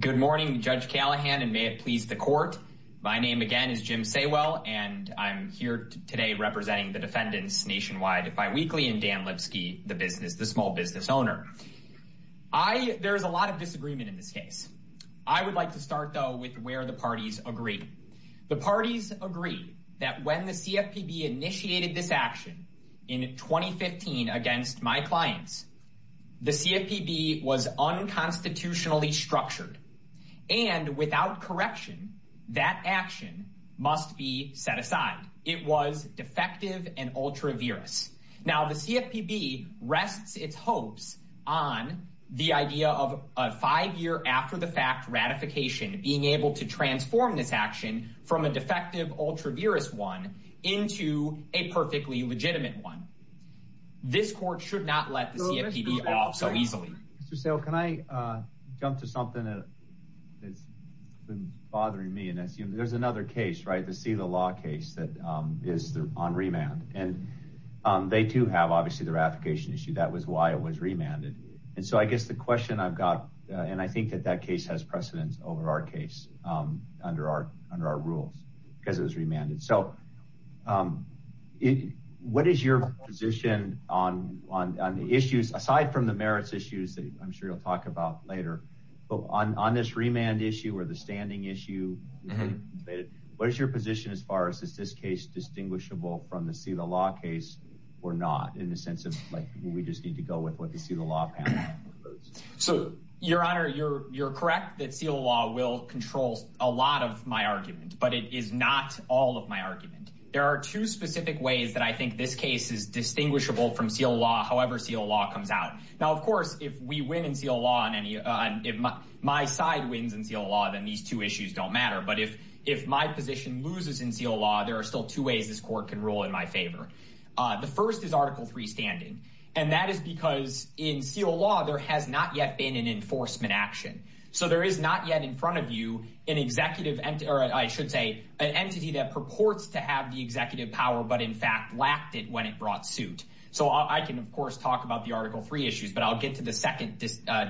Good morning, Judge Callahan, and may it please the court. My name, again, is Jim Saywell, and I'm here today representing the defendants Nationwide Biweekly and Dan Lipsky, the business, the small business owner. I, there's a lot of disagreement in this case. I would like to start, though, with where the parties agree. The parties agree that when the CFPB initiated this action in 2015 against my clients, the CFPB was unconstitutionally structured. And without correction, that action must be set aside. It was defective and ultra-virus. Now, the CFPB rests its hopes on the idea of a five-year after-the-fact ratification, being able to transform this action from a defective ultra-virus one into a perfectly legitimate one. This court should not let the CFPB off so easily. Mr. Saywell, can I jump to something that's been bothering me? There's another case, right, the Sela Law case that is on remand. And they do have, obviously, the ratification issue. That was why it was remanded. And so I guess the question I've got, and I think that that case has precedence over our case under our rules because it was remanded. So what is your position on the issues, aside from the merits issues that I'm sure you'll talk about later, but on this remand issue or the standing issue, what is your position as far as is this case distinguishable from the Sela Law case or not, in the sense of, like, we just need to go with what the Sela Law panel prefers? So, Your Honor, you're correct that Sela Law will control a lot of my argument. But it is not all of my argument. There are two specific ways that I think this case is distinguishable from Sela Law, however Sela Law comes out. Now, of course, if we win in Sela Law, if my side wins in Sela Law, then these two issues don't matter. But if my position loses in Sela Law, there are still two ways this court can rule in my favor. The first is Article III standing. And that is because in Sela Law, there has not yet been an enforcement action. So there is not yet in front of you an executive, or I should say, an entity that purports to have the executive power, but in fact lacked it when it brought suit. So I can, of course, talk about the Article III issues, but I'll get to the second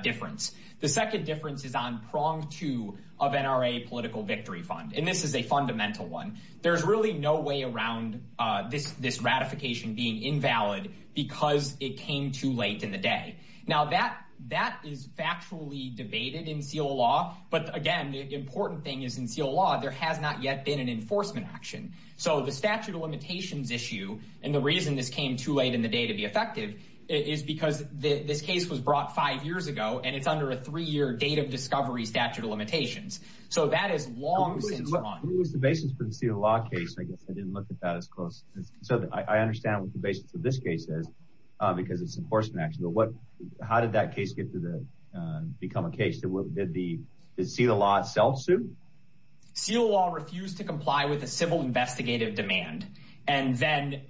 difference. The second difference is on prong two of NRA political victory fund. And this is a fundamental one. There's really no way around this ratification being invalid because it came too late in the day. Now, that is factually debated in Sela Law. But again, the important thing is in Sela Law, there has not yet been an enforcement action. So the statute of limitations issue, and the reason this came too late in the day to be effective, is because this case was brought five years ago, and it's under a three-year date of discovery statute of limitations. So that is long since gone. What was the basis for the Sela Law case? I guess I didn't look at that as close. So I understand what the basis of this case is, because it's an enforcement action. How did that case become a case? Did Sela Law itself sue? Sela Law refused to comply with a civil investigative demand, and then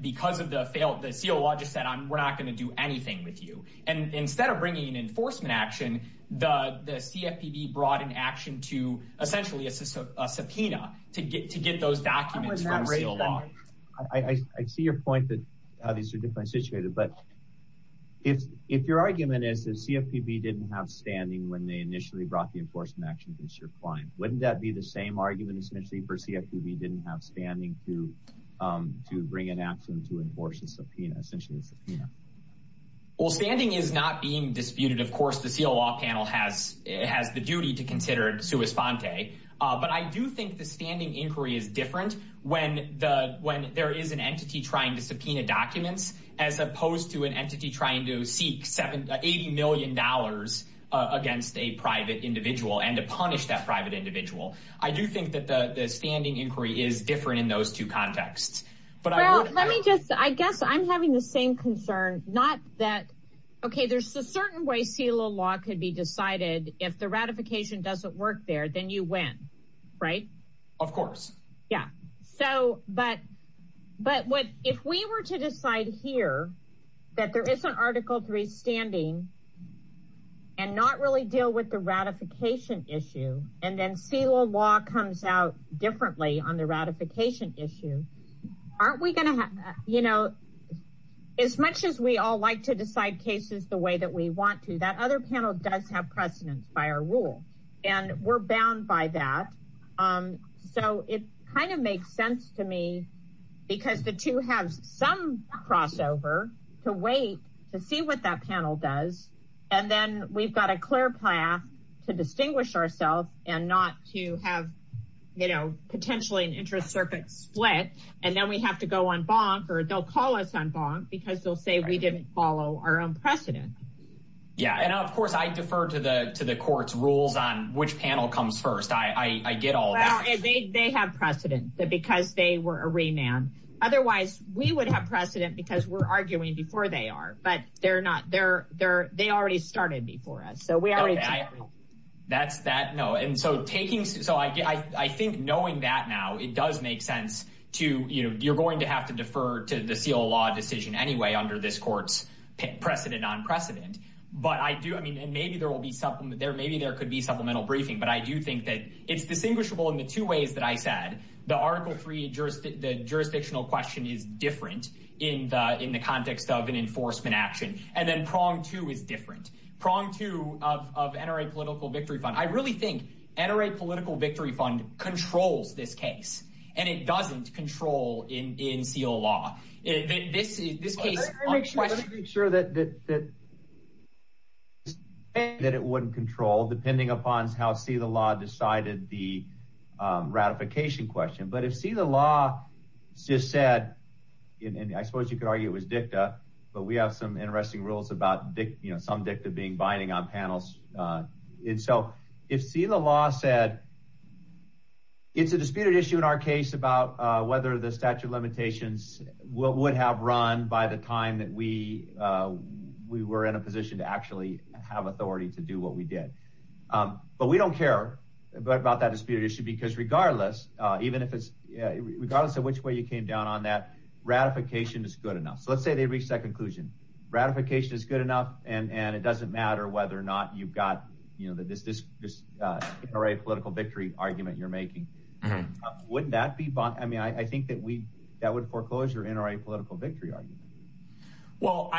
because of the fail, the Sela Law just said, we're not going to do anything with you. And instead of bringing an enforcement action, the CFPB brought an action to essentially a subpoena to get those documents from Sela Law. I see your point that these are different situations, but if your argument is that CFPB didn't have standing when they initially brought the enforcement action against your client, wouldn't that be the same argument essentially for CFPB didn't have standing to bring an action to enforce a subpoena, essentially a subpoena? Well, standing is not being disputed. Of course, the Sela Law panel has the duty to consider it sua sponte, but I do think the standing inquiry is different when there is an entity trying to subpoena documents, as opposed to an entity trying to seek $80 million against a private individual and to punish that private individual. I do think that the standing inquiry is different in those two contexts. Well, let me just, I guess I'm having the same concern, not that, okay, there's a certain way Sela Law could be decided. If the ratification doesn't work there, then you win, right? Of course. Yeah. So, but if we were to decide here that there is an Article III standing and not really deal with the ratification issue, and then Sela Law comes out differently on the ratification issue, aren't we going to have, you know, as much as we all like to decide cases the way that we want to, that other panel does have precedence by our rule, and we're bound by that. So, it kind of makes sense to me because the two have some crossover to wait to see what that panel does, and then we've got a clear path to distinguish ourselves and not to have, you know, potentially an interest circuit split, and then we have to go on bonk or they'll call us on bonk because they'll say we didn't follow our own precedent. Yeah. And of course, I defer to the court's rules on which panel comes first. I get all that. Well, they have precedent because they were a remand. Otherwise, we would have precedent because we're arguing before they are, but they're not. They already started before us. So, we already... That's that. No. And so, taking... So, I think knowing that now, it does make sense to, you know, you're going to have to But I do. I mean, and maybe there will be something there. Maybe there could be supplemental briefing, but I do think that it's distinguishable in the two ways that I said. The Article III, the jurisdictional question is different in the context of an enforcement action. And then prong two is different. Prong two of NRA Political Victory Fund. I really think NRA Political Victory Fund controls this case, and it doesn't control in seal law. This is... Let's make sure that it wouldn't control depending upon how seal law decided the ratification question. But if seal law just said, and I suppose you could argue it was dicta, but we have some interesting rules about some dicta being binding on panels. And so, if seal law said, it's a disputed issue in our case about whether the statute of limitations would have run by the time that we were in a position to actually have authority to do what we did. But we don't care about that disputed issue, because regardless, regardless of which way you came down on that, ratification is good enough. So let's say they reached that conclusion. Ratification is good enough, and it doesn't matter whether or not you've got this NRA Political Victory argument you're making. Wouldn't that be, I mean, I think that would foreclose your NRA Political Victory argument. Well,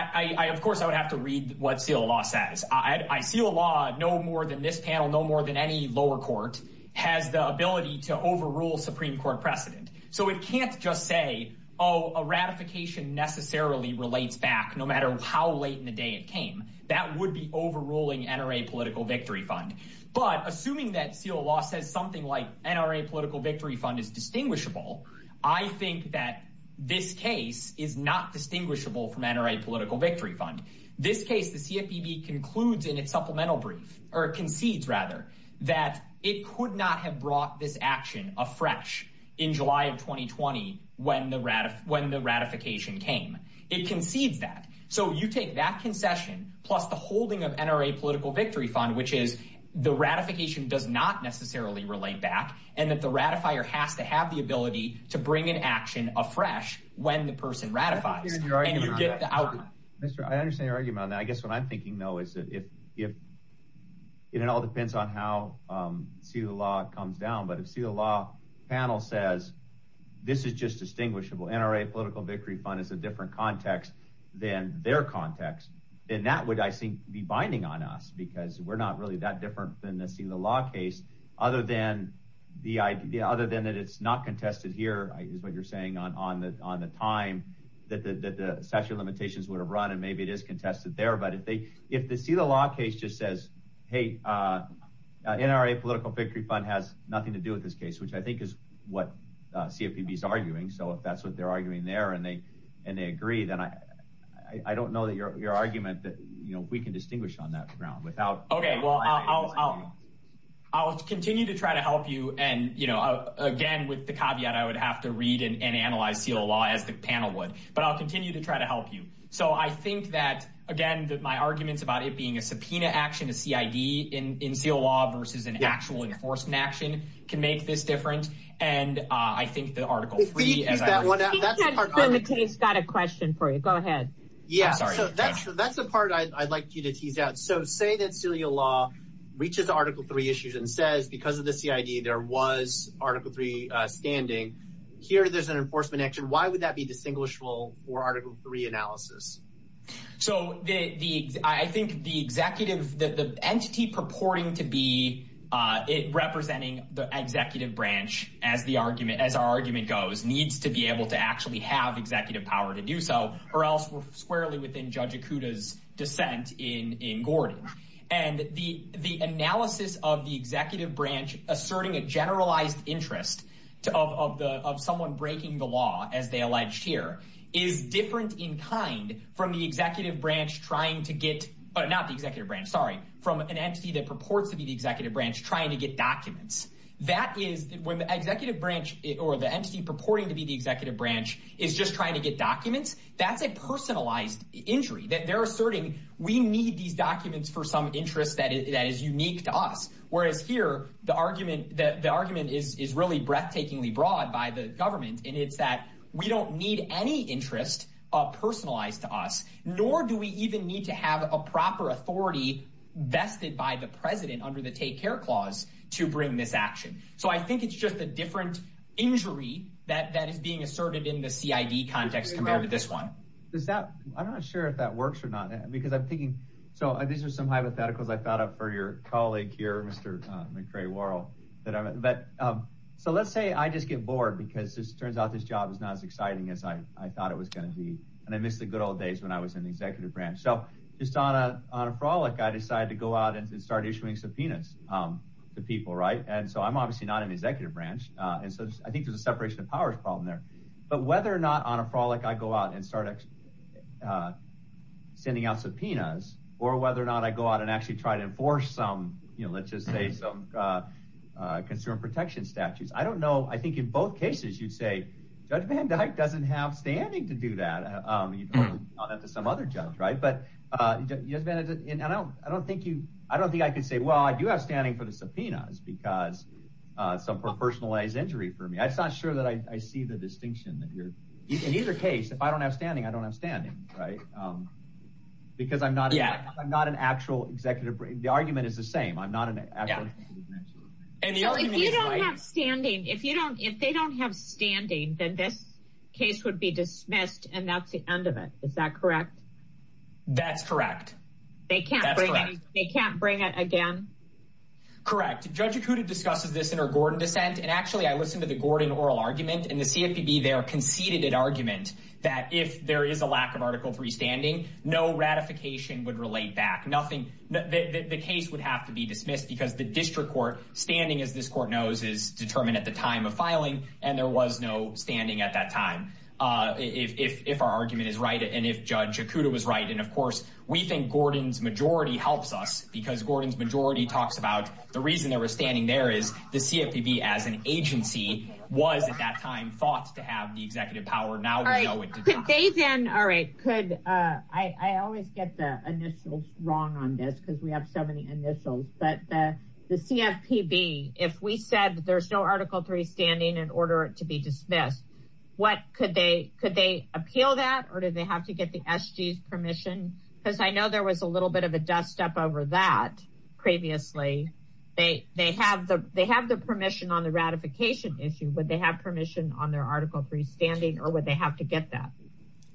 of course, I would have to read what seal law says. I seal law, no more than this panel, no more than any lower court has the ability to overrule Supreme Court precedent. So it can't just say, oh, a ratification necessarily relates back no matter how late in the day it came. That would be overruling NRA Political Victory Fund. But assuming that seal law says something like NRA Political Victory Fund is distinguishable, I think that this case is not distinguishable from NRA Political Victory Fund. This case, the CFPB concludes in its supplemental brief, or concedes rather, that it could not have brought this action afresh in July of 2020 when the ratification came. It concedes that. So you take that concession, plus the holding of NRA Political Victory Fund, which is the ratification does not necessarily relate back, and that the ratifier has to have the ability to bring an action afresh when the person ratifies. I understand your argument on that. I guess what I'm thinking, though, is that if it all depends on how seal law comes down, but if seal law panel says this is just distinguishable, NRA Political Victory Fund is a context, then that would, I think, be binding on us, because we're not really that different than the seal law case, other than that it's not contested here, is what you're saying, on the time that the statute of limitations would have run, and maybe it is contested there. But if the seal law case just says, hey, NRA Political Victory Fund has nothing to do with this case, which I think is what CFPB is arguing. So if that's what they're arguing there, and they agree, then I don't know that your argument that we can distinguish on that ground. I'll continue to try to help you. And again, with the caveat, I would have to read and analyze seal law as the panel would. But I'll continue to try to help you. So I think that, again, that my arguments about it being a subpoena action, a CID in seal law versus an actual enforcement action can make this different. And I think the Article III, as I was saying— If we can tease that one out, that's the part— Bill, the case got a question for you. Go ahead. Yeah, so that's the part I'd like you to tease out. So say that seal law reaches Article III issues and says, because of the CID, there was Article III standing. Here, there's an enforcement action. Why would that be distinguishable for Article III analysis? So I think the entity purporting to be representing the executive branch, as our argument goes, needs to be able to actually have executive power to do so, or else we're squarely within Judge Akuta's dissent in Gordon. And the analysis of the executive branch asserting a generalized interest of someone breaking the law, as they alleged here, is different in kind from an entity that purports to be the executive branch trying to get documents. When the entity purporting to be the executive branch is just trying to get documents, that's a personalized injury. They're asserting, we need these documents for some interest that is unique to us. Whereas here, the argument is really breathtakingly broad by the government, and it's that we don't need any interest personalized to us, nor do we even need to have a proper authority vested by the president under the Take Care Clause to bring this action. So I think it's just a different injury that is being asserted in the CID context compared to this one. I'm not sure if that works or not, because I'm thinking, so these are some hypotheticals I thought up for your colleague here, Mr. McCray-Warrell. So let's say I just get bored, because it turns out this job is not as exciting as I thought it was going to be. And I miss the good old days when I was in the executive branch. So just on a frolic, I decided to go out and start issuing subpoenas to people, right? And so I'm obviously not in the executive branch, and so I think there's a separation of powers problem there. But whether or not on a frolic I go out and start sending out subpoenas, or whether or not I go out and actually try to enforce some, let's just say, some consumer protection statutes. I don't know. I think in both cases, you'd say, Judge Van Dyke doesn't have standing to do that. You'd point that to some other judge, right? But I don't think I could say, well, I do have standing for the subpoenas, because some personalized injury for me. I'm just not sure that I see the distinction. In either case, if I don't have standing, I don't have standing, right? Because I'm not an actual executive. The argument is the same. I'm not an actual. So if you don't have standing, if they don't have standing, then this case would be dismissed, and that's the end of it. Is that correct? That's correct. They can't bring it again? Correct. Judge Acuda discusses this in her Gordon dissent. And actually, I listened to the Gordon oral argument, and the CFPB there conceded an argument that if there is a lack of Article 3 standing, no ratification would relate back. The case would have to be dismissed, because the district court standing, as this court knows, is determined at the time of filing, and there was no standing at that time, if our argument is right and if Judge Acuda was right. And of course, we think Gordon's majority helps us, because Gordon's majority talks about the reason they were standing there is the CFPB as an agency was at that time thought to have the executive power. Now we know it did not. Could they then, all right, could, I always get the initials wrong on this, because we have so many initials, but the CFPB, if we said there's no Article 3 standing in order to be dismissed, what could they, could they appeal that? Or do they have to get the SG's permission? Because I know there was a little bit of a dust up over that previously. They have the permission on the ratification issue, but they have permission on their Article 3 standing, or would they have to get that?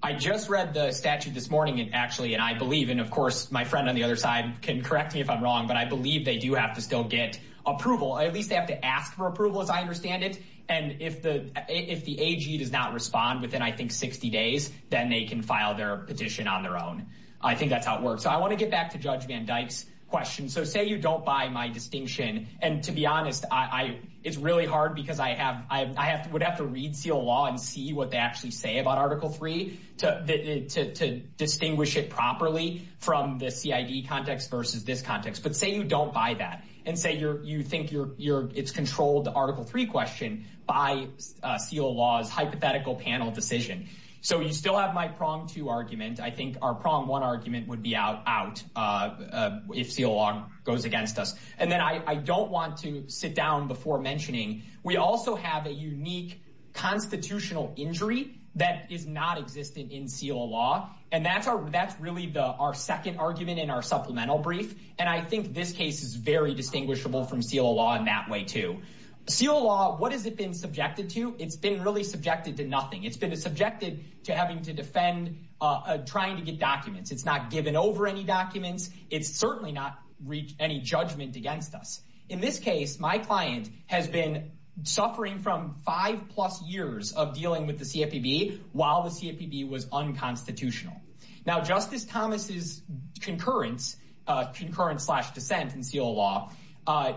I just read the statute this morning, and actually, and I believe, and of course, my friend on the other side can correct me if I'm wrong, but I believe they do have to still get approval. At least they have to ask for approval, as I understand it. And if the AG does not respond within, I think, 60 days, then they can file their petition on their own. I think that's how it works. So I want to get back to Judge Van Dyke's question. So say you don't buy my distinction. And to be honest, I, it's really hard because I have, I have, would have to read SEAL law and see what they actually say about Article 3 to distinguish it properly from the CID context versus this context. But say you don't buy that, and say you're, you think you're, you're, it's controlled the Article 3 question by SEAL law's hypothetical panel decision. So you still have my prong two argument. I think our prong one argument would be out if SEAL law goes against us. And then I don't want to sit down before mentioning, we also have a unique constitutional injury that is not existent in SEAL law. And that's our, that's really the, our second argument in our supplemental brief. And I think this case is very distinguishable from SEAL law in that way too. SEAL law, what has it been subjected to? It's been really subjected to nothing. It's been subjected to having to defend, trying to get documents. It's not given over any documents. It's certainly not reached any judgment against us. In this case, my client has been suffering from five plus years of dealing with the CFPB while the CFPB was unconstitutional. Now, Justice Thomas's concurrence, concurrence slash dissent in SEAL law,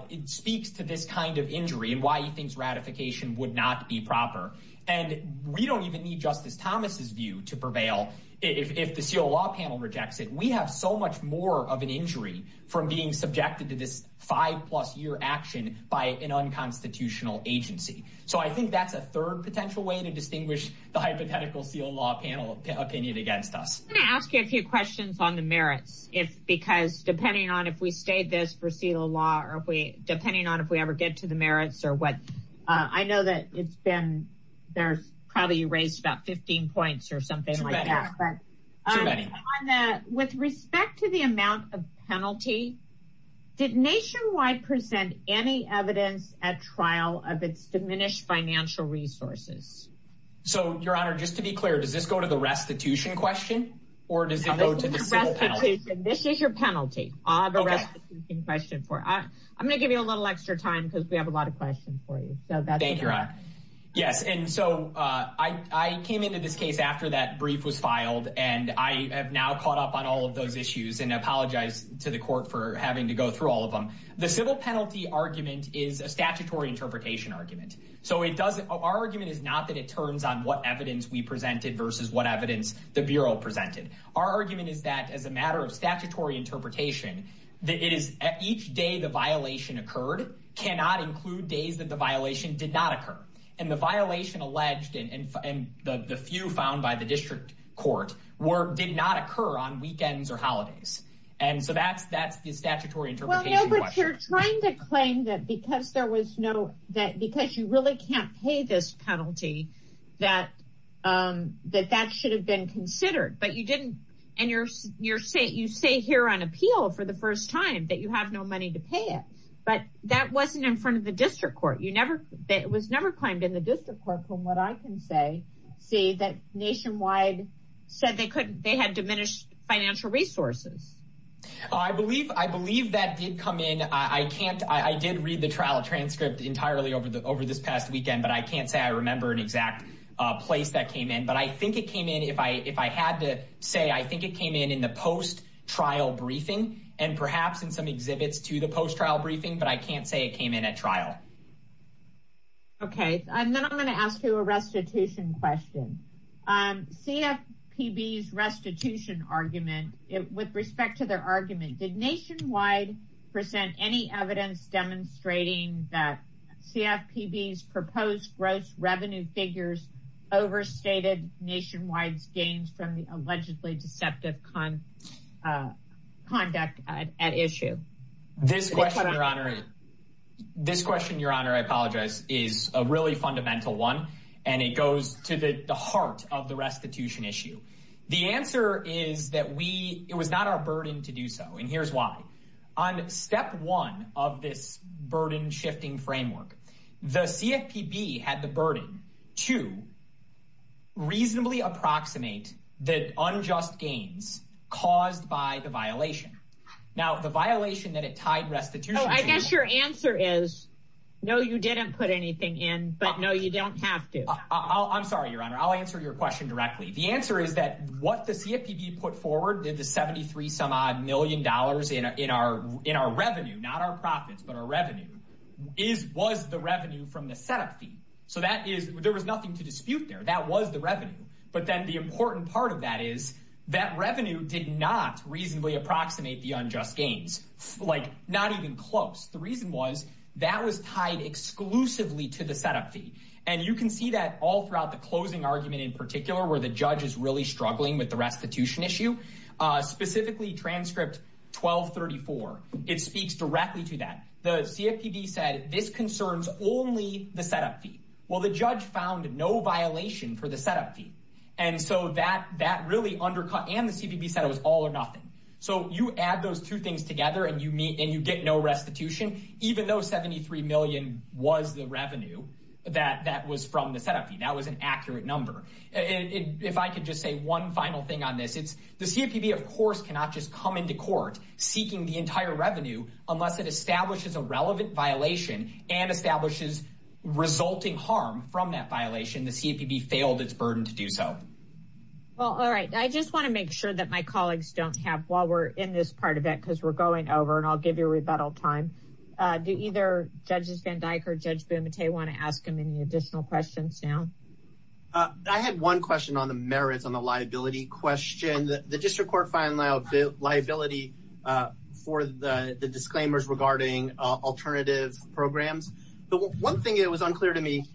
it speaks to this kind of injury and why he thinks ratification would not be proper. And we don't even need Justice Thomas's view to prevail if the SEAL law panel rejects it. We have so much more of an injury from being subjected to this five plus year action by an unconstitutional agency. So I think that's a third potential way to distinguish the hypothetical SEAL law panel opinion against us. I'm going to ask you a few questions on the merits. If, because depending on if we stayed this for SEAL law, or if we, depending on if we ever get to the merits or what, I know that it's been, there's probably raised about 15 points or something like that. Too many. With respect to the amount of penalty, did Nationwide present any evidence at trial of its diminished financial resources? So, Your Honor, just to be clear, does this go to the restitution question or does it go to the SEAL penalty? This is your penalty, the restitution question for, I'm going to give you a little extra time because we have a lot of questions for you. Thank you, Your Honor. Yes, and so I came into this case after that brief was filed and I have now caught up on all of those issues and I apologize to the court for having to go through all of them. The civil penalty argument is a statutory interpretation argument. So it doesn't, our argument is not that it turns on what evidence we presented versus what evidence the Bureau presented. Our argument is that as a matter of statutory interpretation, that it is at each day the did not occur. And the violation alleged and the few found by the district court did not occur on weekends or holidays. And so that's the statutory interpretation question. Well, no, but you're trying to claim that because there was no, that because you really can't pay this penalty, that that should have been considered. But you didn't, and you say here on appeal for the first time that you have no money to pay it. But that wasn't in front of the district court. It was never claimed in the district court from what I can say, see that nationwide said they couldn't, they had diminished financial resources. I believe, I believe that did come in. I can't, I did read the trial transcript entirely over the, over this past weekend, but I can't say I remember an exact place that came in, but I think it came in. If I, if I had to say, I think it came in, in the post trial briefing and perhaps in some exhibits to the post trial briefing, but I can't say it came in at trial. Okay. And then I'm going to ask you a restitution question. CFPB's restitution argument, with respect to their argument, did nationwide present any evidence demonstrating that CFPB's proposed gross revenue figures overstated nationwide's gains from the allegedly deceptive conduct at issue? This question, your honor, this question, your honor, I apologize is a really fundamental one and it goes to the heart of the restitution issue. The answer is that we, it was not our burden to do so. And here's why on step one of this burden shifting framework, the CFPB had the burden to reasonably approximate that unjust gains caused by the violation. Now the violation that it tied restitution. I guess your answer is, no, you didn't put anything in, but no, you don't have to. I'm sorry, your honor. I'll answer your question directly. The answer is that what the CFPB put forward did the 73 some odd million dollars in our, in our revenue, not our profits, but our revenue is, was the revenue from the setup fee. So that is, there was nothing to dispute there. That was the revenue. But then the important part of that is that revenue did not reasonably approximate the unjust gains, like not even close. The reason was that was tied exclusively to the setup fee. And you can see that all throughout the closing argument in particular, where the judge is really struggling with the restitution issue, specifically transcript 1234. It speaks directly to that. The CFPB said this concerns only the setup fee. Well, the judge found no violation for the setup fee. And so that, that really undercut and the CPP said it was all or nothing. So you add those two things together and you meet and you get no restitution, even though 73 million was the revenue that, that was from the setup fee. That was an accurate number. And if I could just say one final thing on this, it's the CFPB, of course, cannot just come into court seeking the entire revenue, unless it establishes a relevant violation and establishes resulting harm from that violation. The CFPB failed its burden to do so. Well, all right. I just want to make sure that my colleagues don't have, while we're in this part of it, because we're going over and I'll give you a rebuttal time. Do either judges Van Dyke or judge Bumate want to ask him any additional questions now? I had one question on the merits, on the liability question. The district court filed liability for the disclaimers regarding alternative programs. But one thing that was unclear to me,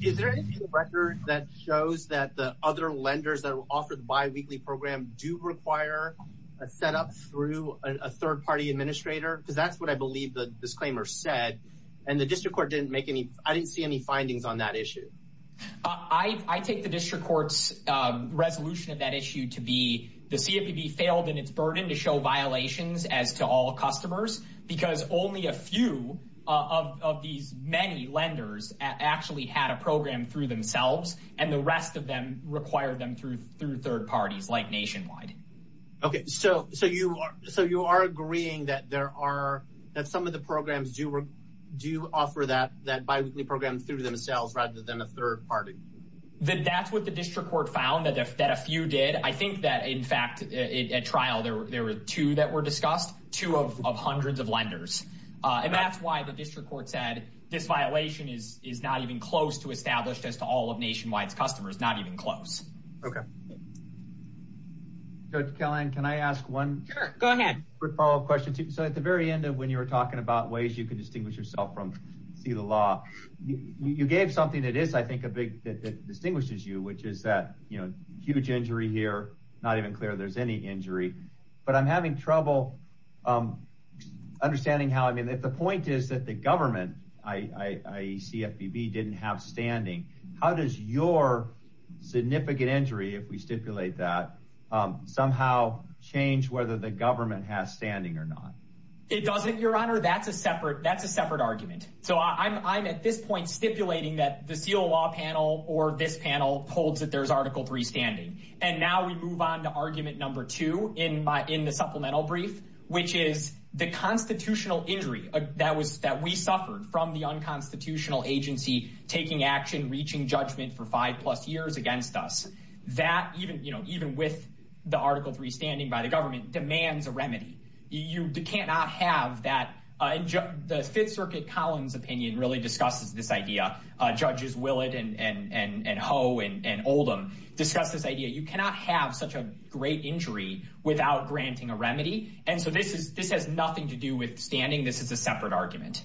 is there any record that shows that the other lenders that will offer the biweekly program do require a setup through a third party administrator? Because that's what I believe the disclaimer said. And the district court didn't make any, I didn't see any findings on that issue. I take the district court's resolution of that issue to be, the CFPB failed in its burden to show violations as to all customers, because only a few of these many lenders actually had a program through themselves, and the rest of them require them through third parties like Nationwide. Okay, so you are agreeing that there are, that some of the programs do offer that biweekly program through themselves rather than a third party? That's what the district court found, that a few did. I think that in fact, at trial there were two that were discussed, two of hundreds of lenders. And that's why the district court said this violation is not even close to established as to all of Nationwide's customers, not even close. Okay. Judge Kelland, can I ask one? Sure, go ahead. Quick follow-up question. So at the very end of when you were talking about ways you can distinguish yourself from see the law, you gave something that is, I think, a big, that distinguishes you, which is that, you know, huge injury here, not even clear there's any injury, but I'm having trouble understanding how, I mean, if the point is that the government, I, CFPB didn't have standing, how does your significant injury, if we stipulate that, somehow change whether the government has standing or not? It doesn't, your honor, that's a separate, that's a separate argument. I'm at this point stipulating that the seal law panel or this panel holds that there's article three standing. And now we move on to argument number two in my, in the supplemental brief, which is the constitutional injury that was, that we suffered from the unconstitutional agency taking action, reaching judgment for five plus years against us. That even, you know, even with the article three standing by the government demands a remedy. You cannot have that. The fifth circuit Collins opinion really discusses this idea. Judges Willett and Ho and Oldham discuss this idea. You cannot have such a great injury without granting a remedy. And so this is, this has nothing to do with standing. This is a separate argument.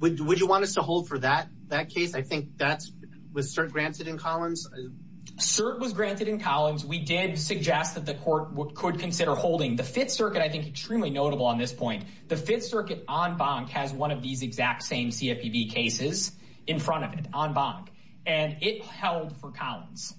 Would you want us to hold for that, that case? I think that's, was cert granted in Collins? Cert was granted in Collins. We did suggest that the court could consider holding the fifth circuit. I think extremely notable on this point, the fifth circuit on bonk has one of these exact same CFPB cases in front of it on bonk and it held for Collins.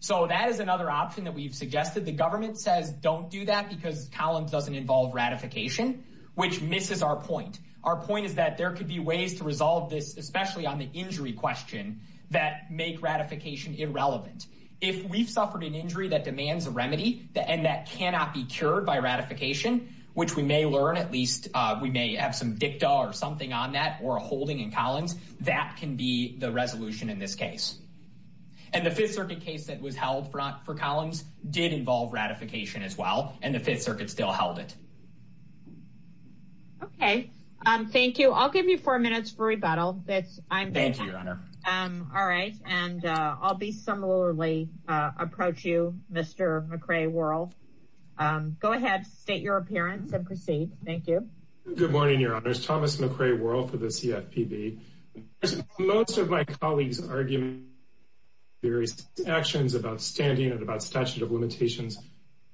So that is another option that we've suggested. The government says don't do that because Collins doesn't involve ratification, which misses our point. Our point is that there could be ways to resolve this, especially on the injury question that make ratification irrelevant. If we've suffered an injury that demands a remedy and that cannot be cured by ratification, which we may learn, at least we may have some dicta or something on that or a holding in Collins that can be the resolution in this case. And the fifth circuit case that was held front for Collins did involve ratification as well. And the fifth circuit still held it. Okay. Thank you. I'll give you four minutes for rebuttal. That's I'm. Thank you, your honor. All right. And I'll be similarly approach you, Mr. McRae world. Go ahead. State your appearance and proceed. Thank you. Good morning, your honors. Thomas McRae world for the CFPB. Most of my colleagues argument, various actions about standing and about statute of limitations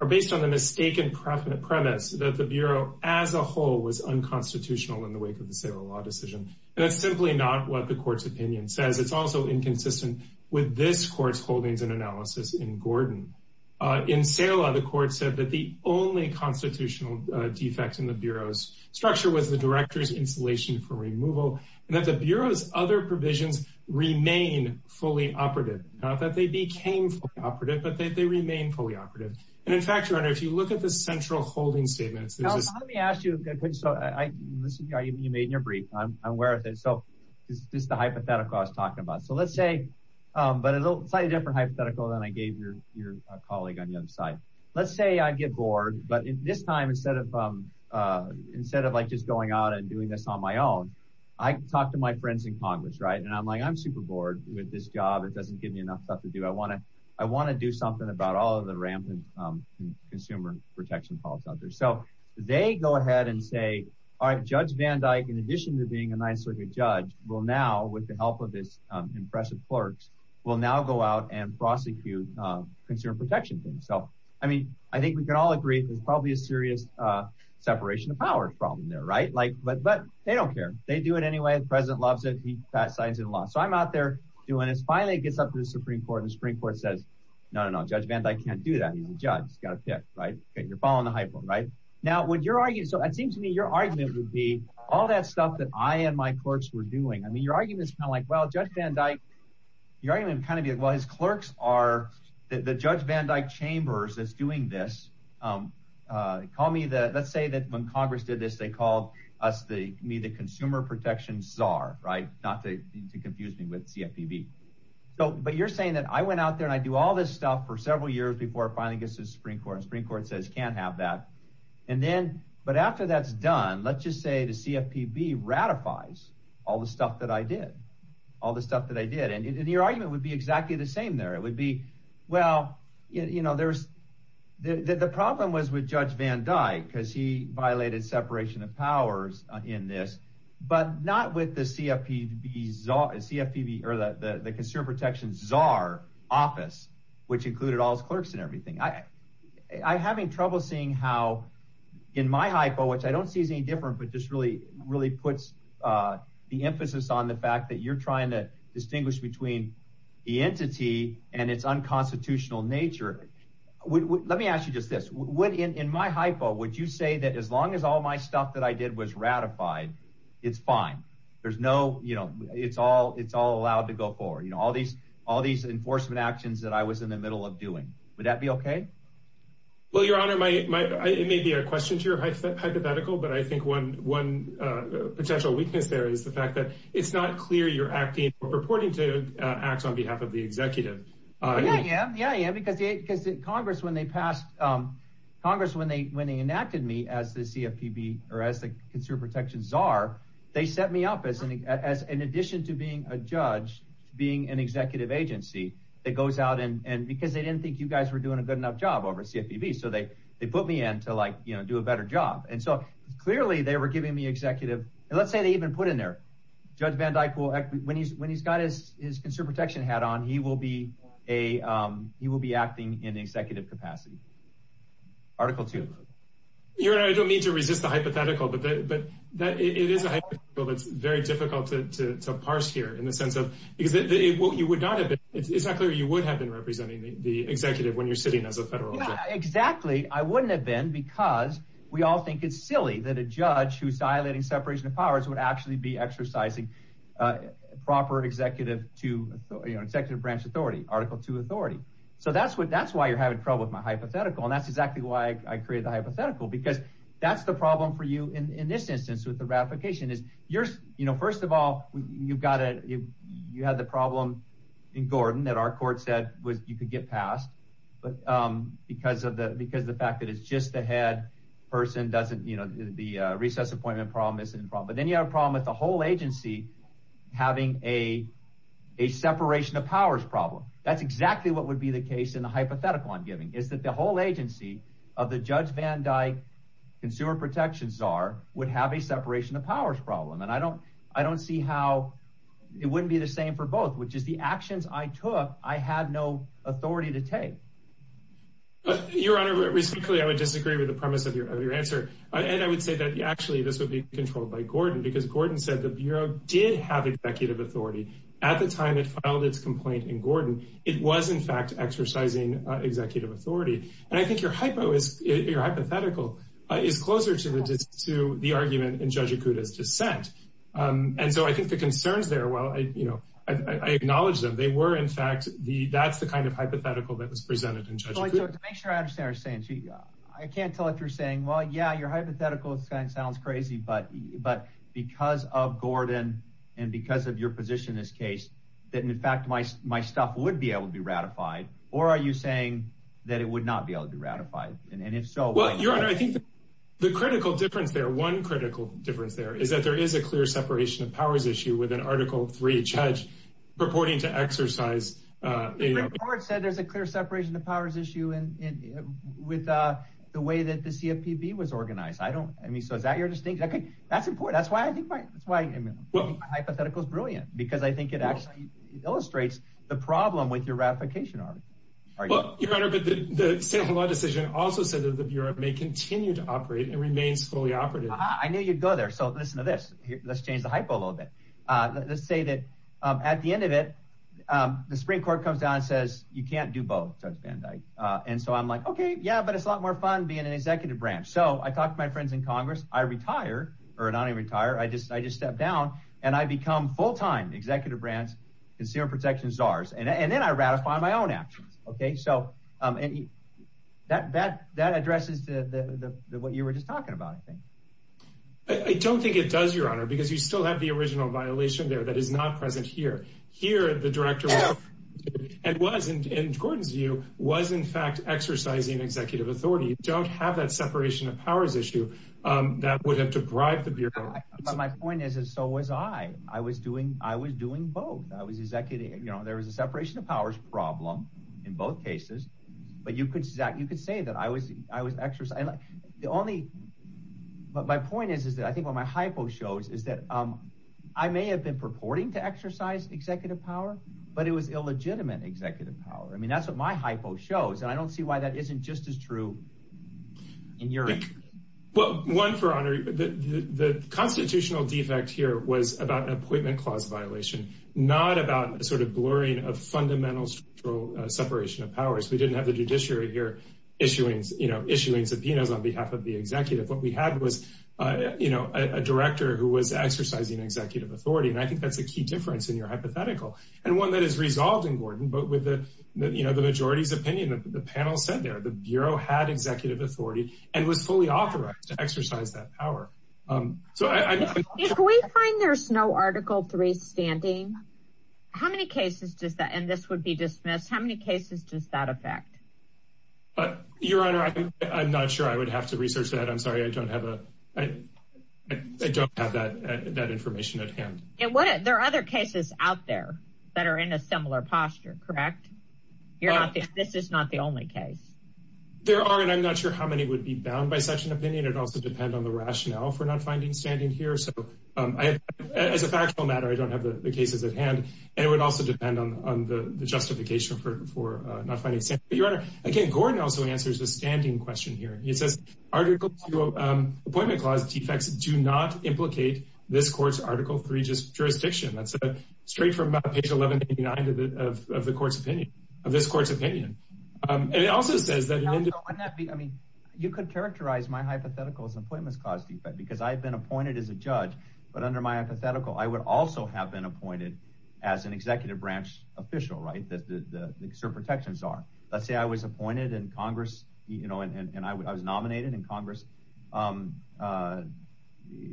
are based on the mistaken precedent premise that the bureau as a whole was unconstitutional in the wake of the civil law decision. And that's simply not what the court's opinion says. It's also inconsistent with this court's holdings and analysis in Gordon. In sale of the court said that the only constitutional defects in the bureau's structure was the director's installation for removal and that the bureau's other provisions remain fully operative. Not that they became operative, but they remain fully operative. And in fact, your honor, if you look at the central holding statements, let me ask you a question. So I listened to you made in your brief. I'm aware of it. So this is the hypothetical I was talking about. So let's say, but a little slightly different hypothetical than I gave your colleague on the other side. Let's say I get bored. But this time, instead of like just going out and doing this on my own, I talked to my friends in Congress, right? And I'm like, I'm super bored with this job. It doesn't give me enough stuff to do. I want to do something about all of the rampant consumer protection calls out there. So they go ahead and say, all right, Judge Van Dyke, in addition to being a ninth circuit judge, will now, with the help of this impressive clerks, will now go out and prosecute consumer protection things. So, I mean, I think we can all agree there's probably a serious separation of power problem there, right? Like, but they don't care. They do it anyway. The president loves it. He passed signs in the law. So I'm out there doing this. Finally, it gets up to the Supreme Court. And the Supreme Court says, no, no, no, Judge Van Dyke can't do that. He's a judge. He's got to pick, right? You're following the hypo, right? Now, when you're arguing, so it seems to me your argument would be all that stuff that I and my clerks were doing. I mean, your argument is kind of like, well, Judge Van Dyke, your argument would kind of be like, well, his clerks are, the Judge Van Dyke Chambers is doing this. Call me the, let's say that when Congress did this, they called us the, me the consumer protection czar, right? Not to confuse me with CFPB. So, but you're saying that I went out there and I do all this stuff for several years before it finally gets to the Supreme Court. Supreme Court says, can't have that. And then, but after that's done, let's just say the CFPB ratifies all the stuff that I did, all the stuff that I did. And your argument would be exactly the same there. It would be, well, you know, there's the, the problem was with Judge Van Dyke, because he violated separation of powers in this, but not with the CFPB czar, CFPB or the consumer protection czar office, which included all his clerks and everything. I having trouble seeing how in my hypo, which I don't see as any different, but just really, really puts the emphasis on the fact that you're trying to distinguish between the entity and its unconstitutional nature. Let me ask you just this, what in my hypo, would you say that as long as all my stuff that I did was ratified, it's fine. There's no, you know, it's all, it's all allowed to go forward. You know, all these, all these enforcement actions that I was in the middle of doing, would that be okay? Well, your honor, my, my, it may be a question to your hypothetical, but I think one, one potential weakness there is the fact that it's not clear you're acting or purporting to acts on behalf of the executive. Yeah, yeah, yeah, yeah. Because, because Congress, when they passed Congress, when they, when they enacted me as the CFPB or as the consumer protections czar, they set me up as an, as, in addition to being a judge, being an executive agency that goes out and, and because they didn't think you guys were doing a good enough job over CFPB. So they, they put me in to like, you know, do a better job. And so clearly they were giving me executive, and let's say they even put in there judge Van Dyke will act when he's, when he's got his, his consumer protection hat on, he will be a, he will be acting in executive capacity. Article two. Your honor, I don't mean to resist the hypothetical, but, but that it is a hypothetical. It's very difficult to, to, to parse here in the sense of, because you would not have It's not clear. You would have been representing the executive when you're sitting as a federal judge. Exactly. I wouldn't have been because we all think it's silly that a judge who's violating separation of powers would actually be exercising a proper executive to, you know, executive branch authority, article two authority. So that's what, that's why you're having trouble with my hypothetical. And that's exactly why I created the hypothetical, because that's the problem for you in this instance, with the ratification is yours. First of all, you've got to, you had the problem in Gordon that our court said was, you could get passed. But because of the, because the fact that it's just the head person doesn't, you know, the recess appointment problem isn't a problem, but then you have a problem with the whole agency having a, a separation of powers problem. That's exactly what would be the case in the hypothetical I'm giving is that the whole agency of the judge Van Dyke consumer protections czar would have a separation of powers problem. And I don't, I don't see how it wouldn't be the same for both, which is the actions I took. I had no authority to take. Your honor, I would disagree with the premise of your answer. And I would say that actually this would be controlled by Gordon because Gordon said the bureau did have executive authority at the time it filed its complaint in Gordon. It was in fact exercising executive authority. And I think your hypo is your hypothetical is closer to the, to the argument in judge Acuda's dissent. And so I think the concerns there, well, I, you know, I, I acknowledge them. They were in fact the, that's the kind of hypothetical that was presented in judge. So to make sure I understand her saying, gee, I can't tell if you're saying, well, yeah, your hypothetical is kind of sounds crazy, but, but because of Gordon and because of your position in this case, that in fact, my, my stuff would be able to be ratified or are you saying that it would not be able to be ratified? And if so, well, your honor, I think the critical difference there, one critical difference there is that there is a clear separation of powers issue with an article three judge purporting to exercise, uh, said there's a clear separation of powers issue. And with, uh, the way that the CFPB was organized, I don't, I mean, so is that your distinction? Okay. That's important. That's why I think my, that's why my hypothetical is brilliant because I think it actually illustrates the problem with your ratification. Are you better? But the state of the law decision also said that the bureau may continue to operate and remain fully operative. I knew you'd go there. So listen to this, let's change the hypo a little bit. Uh, let's say that, um, at the end of it, um, the Supreme court comes down and says you can't do both judge Van Dyke. Uh, and so I'm like, okay, yeah, but it's a lot more fun being an executive branch. So I talked to my friends in Congress, I retire or not even retire. I just, I just stepped down and I become full-time executive brands, consumer protection czars. And then I ratify my own actions. Okay. So, um, and that, that, that addresses the, the, the, the, what you were just talking about. I don't think it does your honor, because you still have the original violation there that is not present here, here at the director and wasn't in Gordon's view was in fact, exercising executive authority. You don't have that separation of powers issue. Um, that would have to drive the beer. My point is, is so was I, I was doing, I was doing both. I was executing, you know, there was a separation of powers problem in both cases, but you could exact, you could say that I was, I was extra. The only, but my point is, is that I think what my hypo shows is that, um, I may have been purporting to exercise executive power, but it was illegitimate executive power. I mean, that's what my hypo shows. And I don't see why that isn't just as true. And your, well, one for honor, the, the, the constitutional defect here was about an appointment clause violation, not about sort of blurring of fundamentals for a separation of powers. We didn't have the judiciary here issuing, you know, issuing subpoenas on behalf of the executive. What we had was, uh, you know, a director who was exercising executive authority. And I think that's a key difference in your hypothetical and one that is resolved in Gordon, but with the, you know, the majority's opinion, the panel said there, the bureau had executive authority and was fully authorized to exercise that power. Um, so I, if we find there's no article three standing, how many cases does that, and this would be dismissed. How many cases does that affect? Uh, your honor, I'm not sure I would have to research that. I'm sorry. I don't have a, I don't have that, that information at hand. And what, there are other cases out there that are in a similar posture, correct? You're not, this is not the only case. There are, and I'm not sure how many would be bound by such an opinion. It also depends on the rationale for not finding standing here. So, um, I, as a factual matter, I don't have the cases at hand and it would also depend on, on the justification for, for, uh, not finding. But your honor, again, Gordon also answers the standing question here. He says article two, um, appointment clause defects do not implicate this court's article three, just jurisdiction. That's a straight from page 1189 of the, of the court's opinion of this court's opinion. Um, and it also says that wouldn't that be, I mean, you could characterize my hypothetical as an appointment clause defect because I've been appointed as a judge, but under my hypothetical, I would also have been appointed as an executive branch official, right? That the, the cert protections are, let's say I was appointed in Congress, you know, and I was nominated in Congress, um, uh,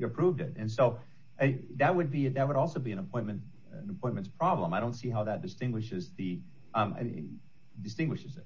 approved it. And so that would be, that would also be an appointment, an appointments problem. I don't see how that distinguishes the, um, distinguishes it.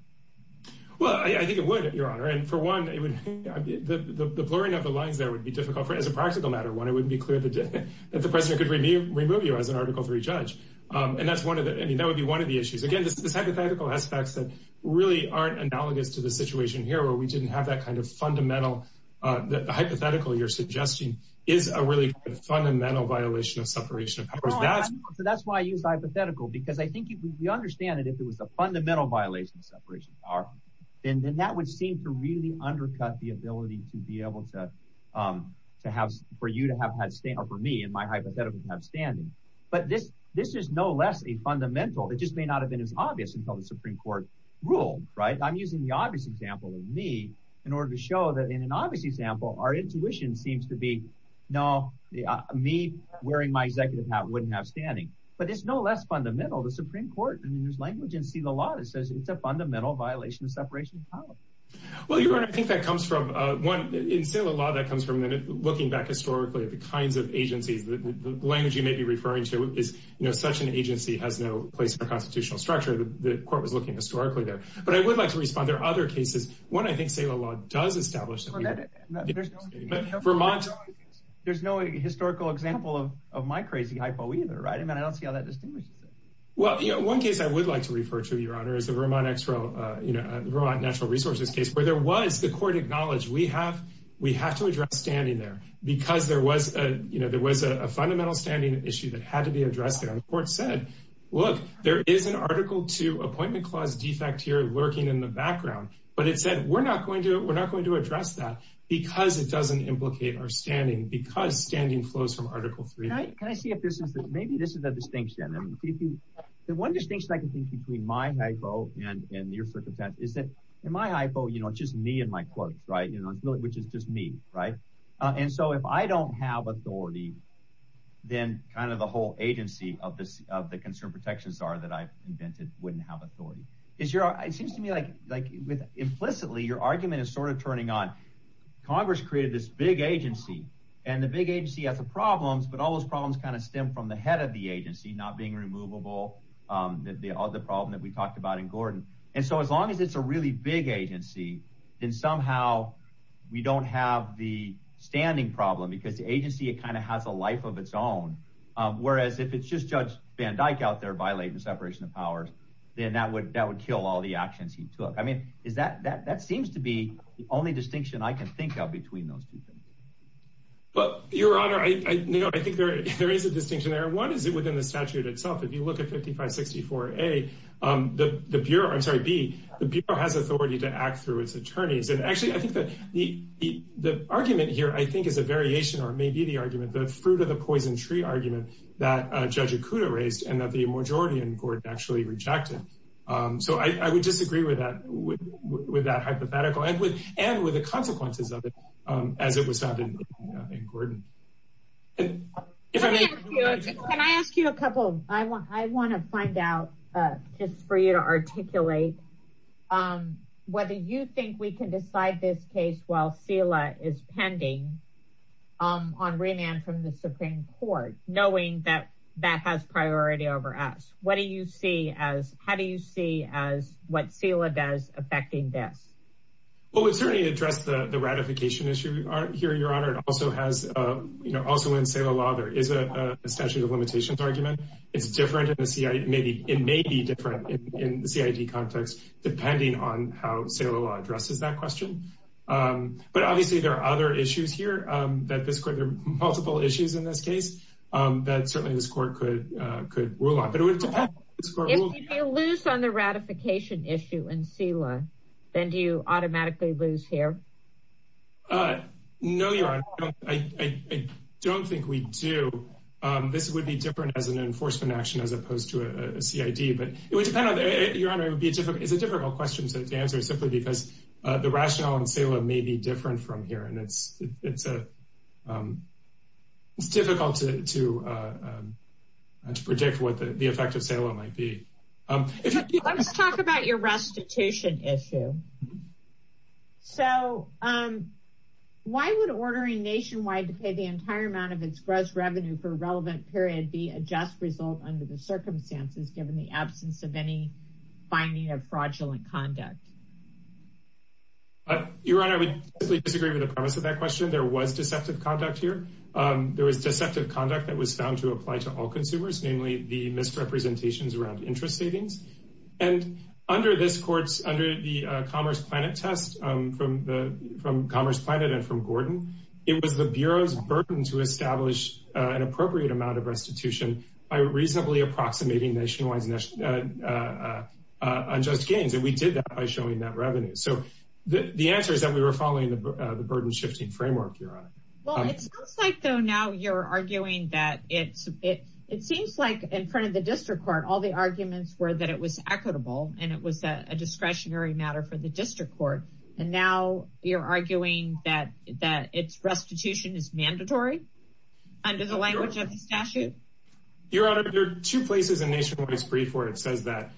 Well, I think it would, your honor. And for one, it would, the, the, the blurring of the lines there would be difficult for as a practical matter. One, it wouldn't be clear that the president could remove, remove you as an article three Um, and that's one of the, I mean, that would be one of the issues. Again, this, this hypothetical aspects that really aren't analogous to the situation here, where we didn't have that kind of fundamental, uh, the hypothetical you're suggesting is a really fundamental violation of separation of powers. That's why I use hypothetical because I think we understand that if it was a fundamental violation of separation of power, then that would seem to really undercut the ability to be able to, um, to have, for you to have had stay or for me and my hypothetical have standing. But this, this is no less a fundamental, it just may not have been as obvious until the Supreme court rule, right? I'm using the obvious example of me in order to show that in an obvious example, our intuition seems to be, no, me wearing my executive hat wouldn't have standing, but it's no less fundamental. The Supreme court, I mean, there's language and see the law that says it's a fundamental violation of separation of power. Well, you're right. I think that comes from a one in sailor law that comes from looking back historically at the kinds of agencies, the language you may be referring to is, you know, such an agency has no place for constitutional structure. The court was looking historically there, but I would like to respond. There are other cases. One, I think say a lot does establish Vermont. There's no historical example of, of my crazy hypo either. Right. I mean, I don't see how that distinguishes it. Well, you know, one case I would like to refer to your honor is the Vermont extra, uh, you know, uh, Vermont natural resources case where there was the court acknowledged. We have, we have to address standing there because there was a, you know, there was a fundamental standing issue that had to be addressed there. And the court said, look, there is an article to appointment clause defect here lurking in the background. But it said, we're not going to, we're not going to address that because it doesn't implicate our standing because standing flows from article three. Can I see if this is, maybe this is a distinction. I mean, the one distinction I can think between my hypo and, and your circumstance is that in my hypo, you know, it's just me and my quotes, right. You know, it's really, which is just me. Right. And so if I don't have authority, then kind of the whole agency of this, of the concern protections are that I've invented. Wouldn't have authority. Is your, it seems to me like, like implicitly your argument is sort of turning on Congress created this big agency and the big agency has the problems, but all those problems kind of stem from the head of the agency, not being removable. The other problem that we talked about in Gordon. And so as long as it's a really big agency, then somehow we don't have the standing problem because the agency, it kind of has a life of its own. Whereas if it's just judge Van Dyke out there violating the separation of powers, then that would, that would kill all the actions he took. I mean, is that, that, that seems to be the only distinction I can think of between those two things. But your honor, I, you know, I think there, there is a distinction there. What is it within the statute itself? If you look at 5564 a the, the Bureau, I'm sorry, B the Bureau has authority to act through its attorneys. And actually I think that the, the, the argument here, I think is a variation, or it may be the argument, the fruit of the poison tree argument that judge Akuta raised and that the majority in court actually rejected. So I, I would disagree with that, with that hypothetical and with, and with the consequences of it as it was found in Gordon. Can I ask you a couple, I want, I want to find out just for you to articulate whether you think we can decide this case while SILA is pending on remand from the Supreme Court, knowing that that has priority over us. What do you see as, how do you see as what SILA does affecting this? Well, it certainly addressed the ratification issue here, your honor. It also has, you know, also in SILA law, there is a statute of limitations argument. It's different in the CID, maybe it may be different in the CID context, depending on how SILA law addresses that question. But obviously there are other issues here that this court, there are multiple issues in this case that certainly this court could, could rule on, but it would depend. If you lose on the ratification issue in SILA, then do you automatically lose here? No, your honor, I don't think we do. This would be different as an enforcement action, as opposed to a CID, but it would depend on, your honor, it would be a different, it's a difficult question to answer simply because the rationale in SILA may be different from here. And it's difficult to predict what the effect of SILA might be. Let's talk about your restitution issue. So why would ordering nationwide to pay the entire amount of its gross revenue for a relevant period be a just result under the circumstances, given the absence of any finding of fraudulent conduct? Your honor, I would disagree with the premise of that question. There was deceptive conduct here. There was deceptive conduct that was found to apply to all consumers, namely the misrepresentations around interest savings. And under this court's, under the Commerce Planet test from Commerce Planet and from Gordon, it was the Bureau's burden to establish an appropriate amount of restitution by reasonably approximating nationwide unjust gains. And we did that by showing that revenue. So the answer is that we were following the burden shifting framework, your honor. Well, it sounds like though now you're arguing that it seems like in front of the district court, all the arguments were that it was equitable and it was a discretionary matter for the district court. And now you're arguing that its restitution is mandatory under the language of the statute? Your honor, there are two places in Nationwide's brief where it says that.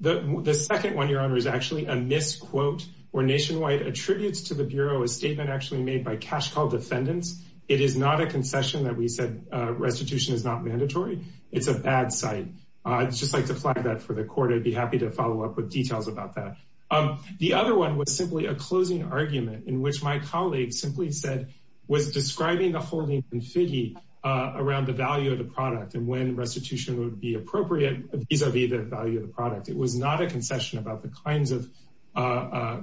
The second one, your honor, is actually a misquote where Nationwide attributes to the Bureau a statement actually made by cash call defendants. It is not a concession that we said restitution is not mandatory. It's a bad site. I'd just like to flag that for the court. I'd be happy to follow up with details about that. The other one was simply a closing argument in which my colleague simply said, was describing the holding and figure around the value of the product and when restitution would be appropriate vis-a-vis the value of the product. It was not a concession about the kinds of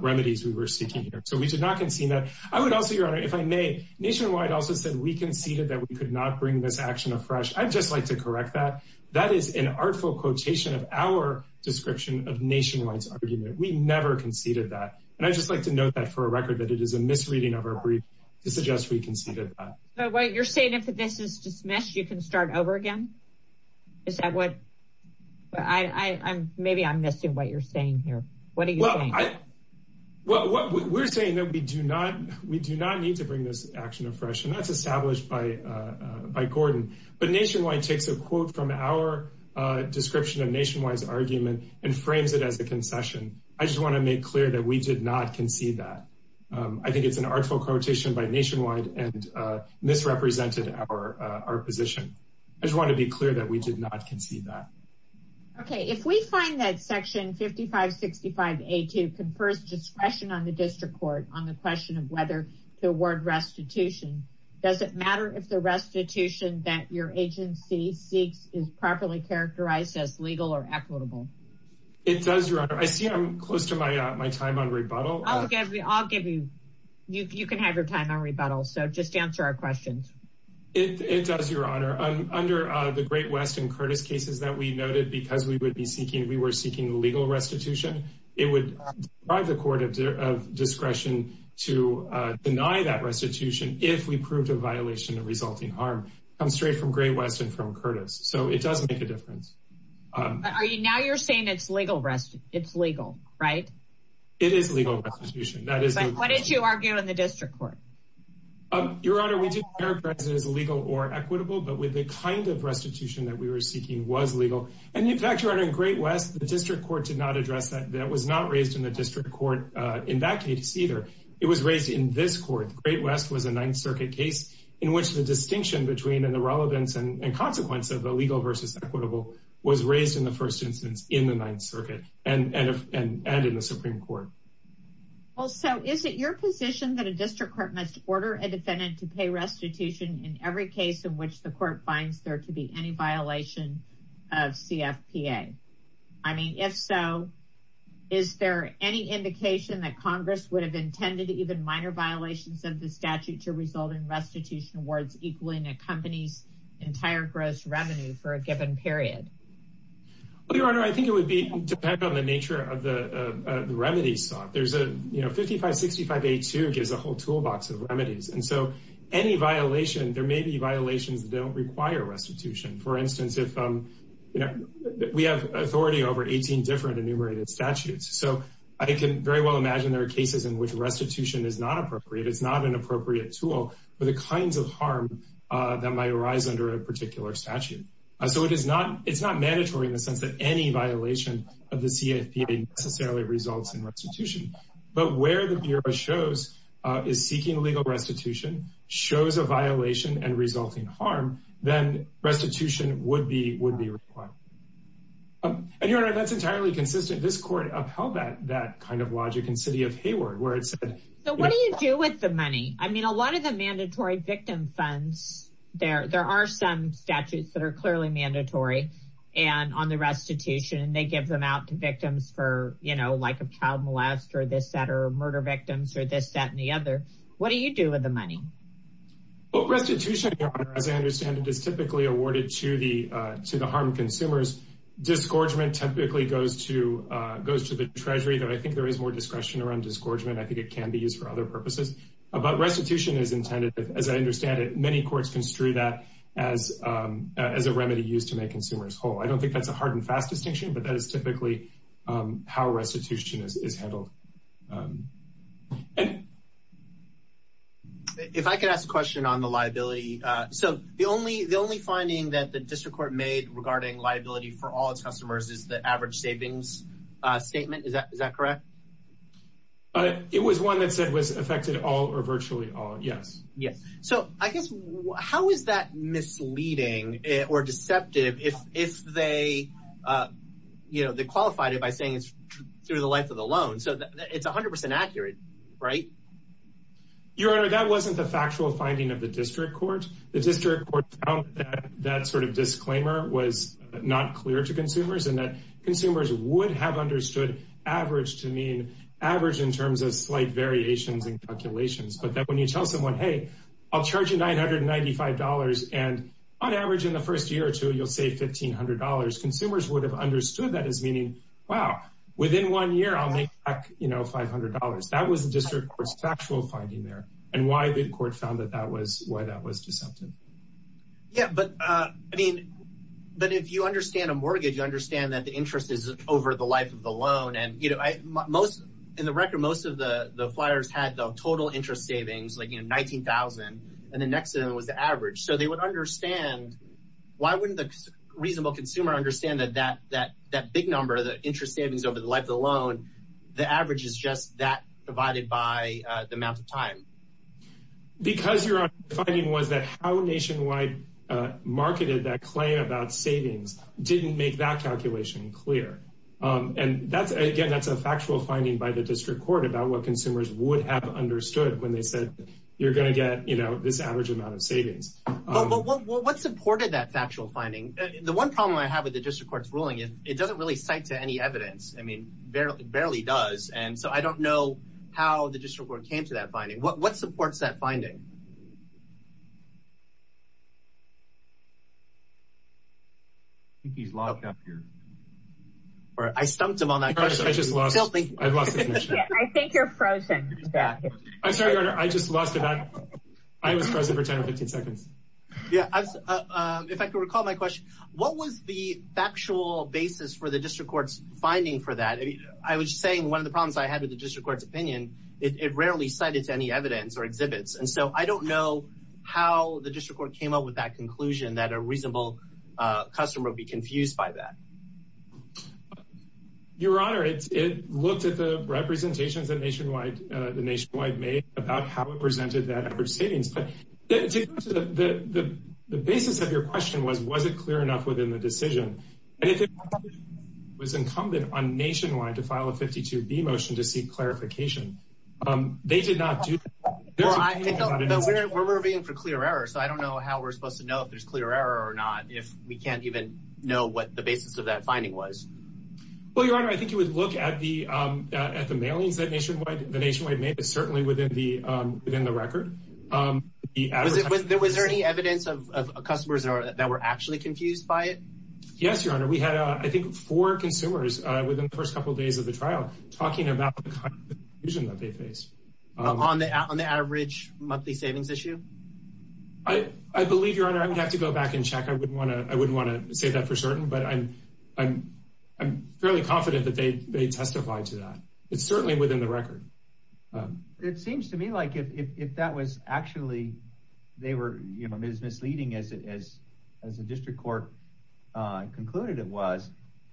remedies we were seeking here. So we did not concede that. I would also, your honor, if I may, Nationwide also said we conceded that we could not bring this action afresh. I'd just like to correct that. That is an artful quotation of our description of Nationwide's argument. We never conceded that. And I'd just like to note that for a record that it is a misreading of our brief to suggest we conceded that. So what you're saying, if this is dismissed, you can start over again? Is that what? Maybe I'm missing what you're saying here. What are you saying? Well, we're saying that we do not need to bring this action afresh. And that's established by Gordon. But Nationwide takes a quote from our description of Nationwide's argument and frames it as a concession. I just want to make clear that we did not concede that. I think it's an artful quotation by Nationwide and misrepresented our position. I just want to be clear that we did not concede that. Okay. If we find that Section 5565A2 confers discretion on the district court on the question of whether to award restitution, does it matter if the restitution that your agency seeks is properly characterized as legal or equitable? It does, Your Honor. I see I'm close to my time on rebuttal. I'll give you, you can have your time on rebuttal. So just answer our questions. It does, Your Honor. Under the Great West and Curtis cases that we noted, because we were seeking legal restitution, it would deprive the court of discretion to deny that restitution if we proved a violation of resulting harm. It comes straight from Great West and from Curtis. So it does make a difference. Now you're saying it's legal, right? It is legal restitution. But what did you argue in the district court? Your Honor, we did characterize it as legal or equitable, but with the kind of restitution that we were seeking was legal. And in fact, Your Honor, in Great West, the district court did not address that. That was not raised in the district court in that case either. It was raised in this court. The Great West was a Ninth Circuit case in which the distinction between and the relevance and consequence of the legal versus equitable was raised in the first instance in the Ninth Circuit and in the Supreme Court. Well, so is it your position that a district court must order a defendant to pay restitution in every case in which the court finds there to be any violation of CFPA? I mean, if so, is there any indication that Congress would have intended even minor violations of the statute to result in restitution awards equaling a company's entire gross revenue for a given period? Well, Your Honor, I think it would depend on the nature of the remedy sought. You know, 5565A2 gives a whole toolbox of remedies. And so any violation, there may be violations that don't require restitution. For instance, if we have authority over 18 different enumerated statutes. So I can very well imagine there are cases in which restitution is not appropriate. It's not an appropriate tool for the kinds of harm that might arise under a particular statute. So it's not mandatory in the sense that any violation of the CFPA necessarily results in restitution. But where the Bureau shows is seeking legal restitution, shows a violation and resulting harm, then restitution would be required. And Your Honor, that's entirely consistent. This court upheld that kind of logic in City of Hayward where it said. So what do you do with the money? I mean, a lot of the mandatory victim funds, there are some statutes that are clearly mandatory and on the restitution, they give them out to victims for, you know, like a child molest or this, that, or murder victims or this, that, and the other. What do you do with the money? Well, restitution, Your Honor, as I understand it, is typically awarded to the harm consumers. Discouragement typically goes to the Treasury, though I think there is more discretion around discouragement. I think it can be used for other purposes. But restitution is intended, as I understand it, many courts construe that as a remedy used to make consumers whole. I don't think that's a hard and fast distinction, but that is typically how restitution is handled. If I could ask a question on the liability. So the only finding that the district court made regarding liability for all its customers is the average savings statement. Is that correct? It was one that said was affected all or virtually all. Yes. Yes. So I guess how is that misleading or deceptive if they, you know, they qualified it by saying it's through the length of the loan. So it's 100% accurate, right? Your Honor, that wasn't the factual finding of the district court. The district court found that sort of disclaimer was not clear to consumers and that consumers would have understood average to mean average in terms of slight variations in calculations. But that when you tell someone, hey, I'll charge you $995 and on average in the first year or two, you'll say $1,500. Consumers would have understood that as meaning, wow, within one year I'll make back, you know, $500. That was the district court's factual finding there and why the court found that that was why that was deceptive. Yeah, but I mean, but if you understand a mortgage, you understand that the interest is over the life of the loan. And, you know, most in the record, most of the flyers had the total interest savings, like, you know, $19,000 and the next one was the average. So they would understand, why wouldn't the reasonable consumer understand that that big number, the interest savings over the life of the loan, the average is just that divided by the amount of time? Because your finding was that how nationwide marketed that claim about savings didn't make that calculation clear. And that's again, that's a factual finding by the district court about what consumers would have understood when they said, you're going to get, you know, this average amount of savings. What supported that factual finding? The one problem I have with the district court's ruling is it doesn't really cite to any evidence. I mean, barely does. And so I don't know how the district court came to that finding. What supports that finding? I think he's locked up here. I stumped him on that question. I just lost. I think you're frozen. I'm sorry, I just lost it. I was frozen for 10 or 15 seconds. Yeah, if I could recall my question, what was the factual basis for the district court's finding for that? I was saying one of the problems I had with the district court's opinion, it rarely cited to any evidence or exhibits. And so I don't know how the district court came up with that conclusion that a reasonable customer would be confused by that. Your Honor, it looked at the representations that Nationwide made about how it presented that average savings. But the basis of your question was, was it clear enough within the decision? And if it was incumbent on Nationwide to file a 52B motion to seek clarification, they did not do that. We're moving for clear error. So I don't know how we're supposed to know if there's clear error or not if we can't know what the basis of that finding was. Well, Your Honor, I think you would look at the mailings that Nationwide made, but certainly within the record. Was there any evidence of customers that were actually confused by it? Yes, Your Honor. We had, I think, four consumers within the first couple of days of the trial talking about the kind of confusion that they faced. On the average monthly savings issue? I believe, Your Honor, I would have to go back and check. I wouldn't want to say that for certain, but I'm fairly confident that they testified to that. It's certainly within the record. It seems to me like if that was actually, they were, you know, as misleading as the district court concluded it was,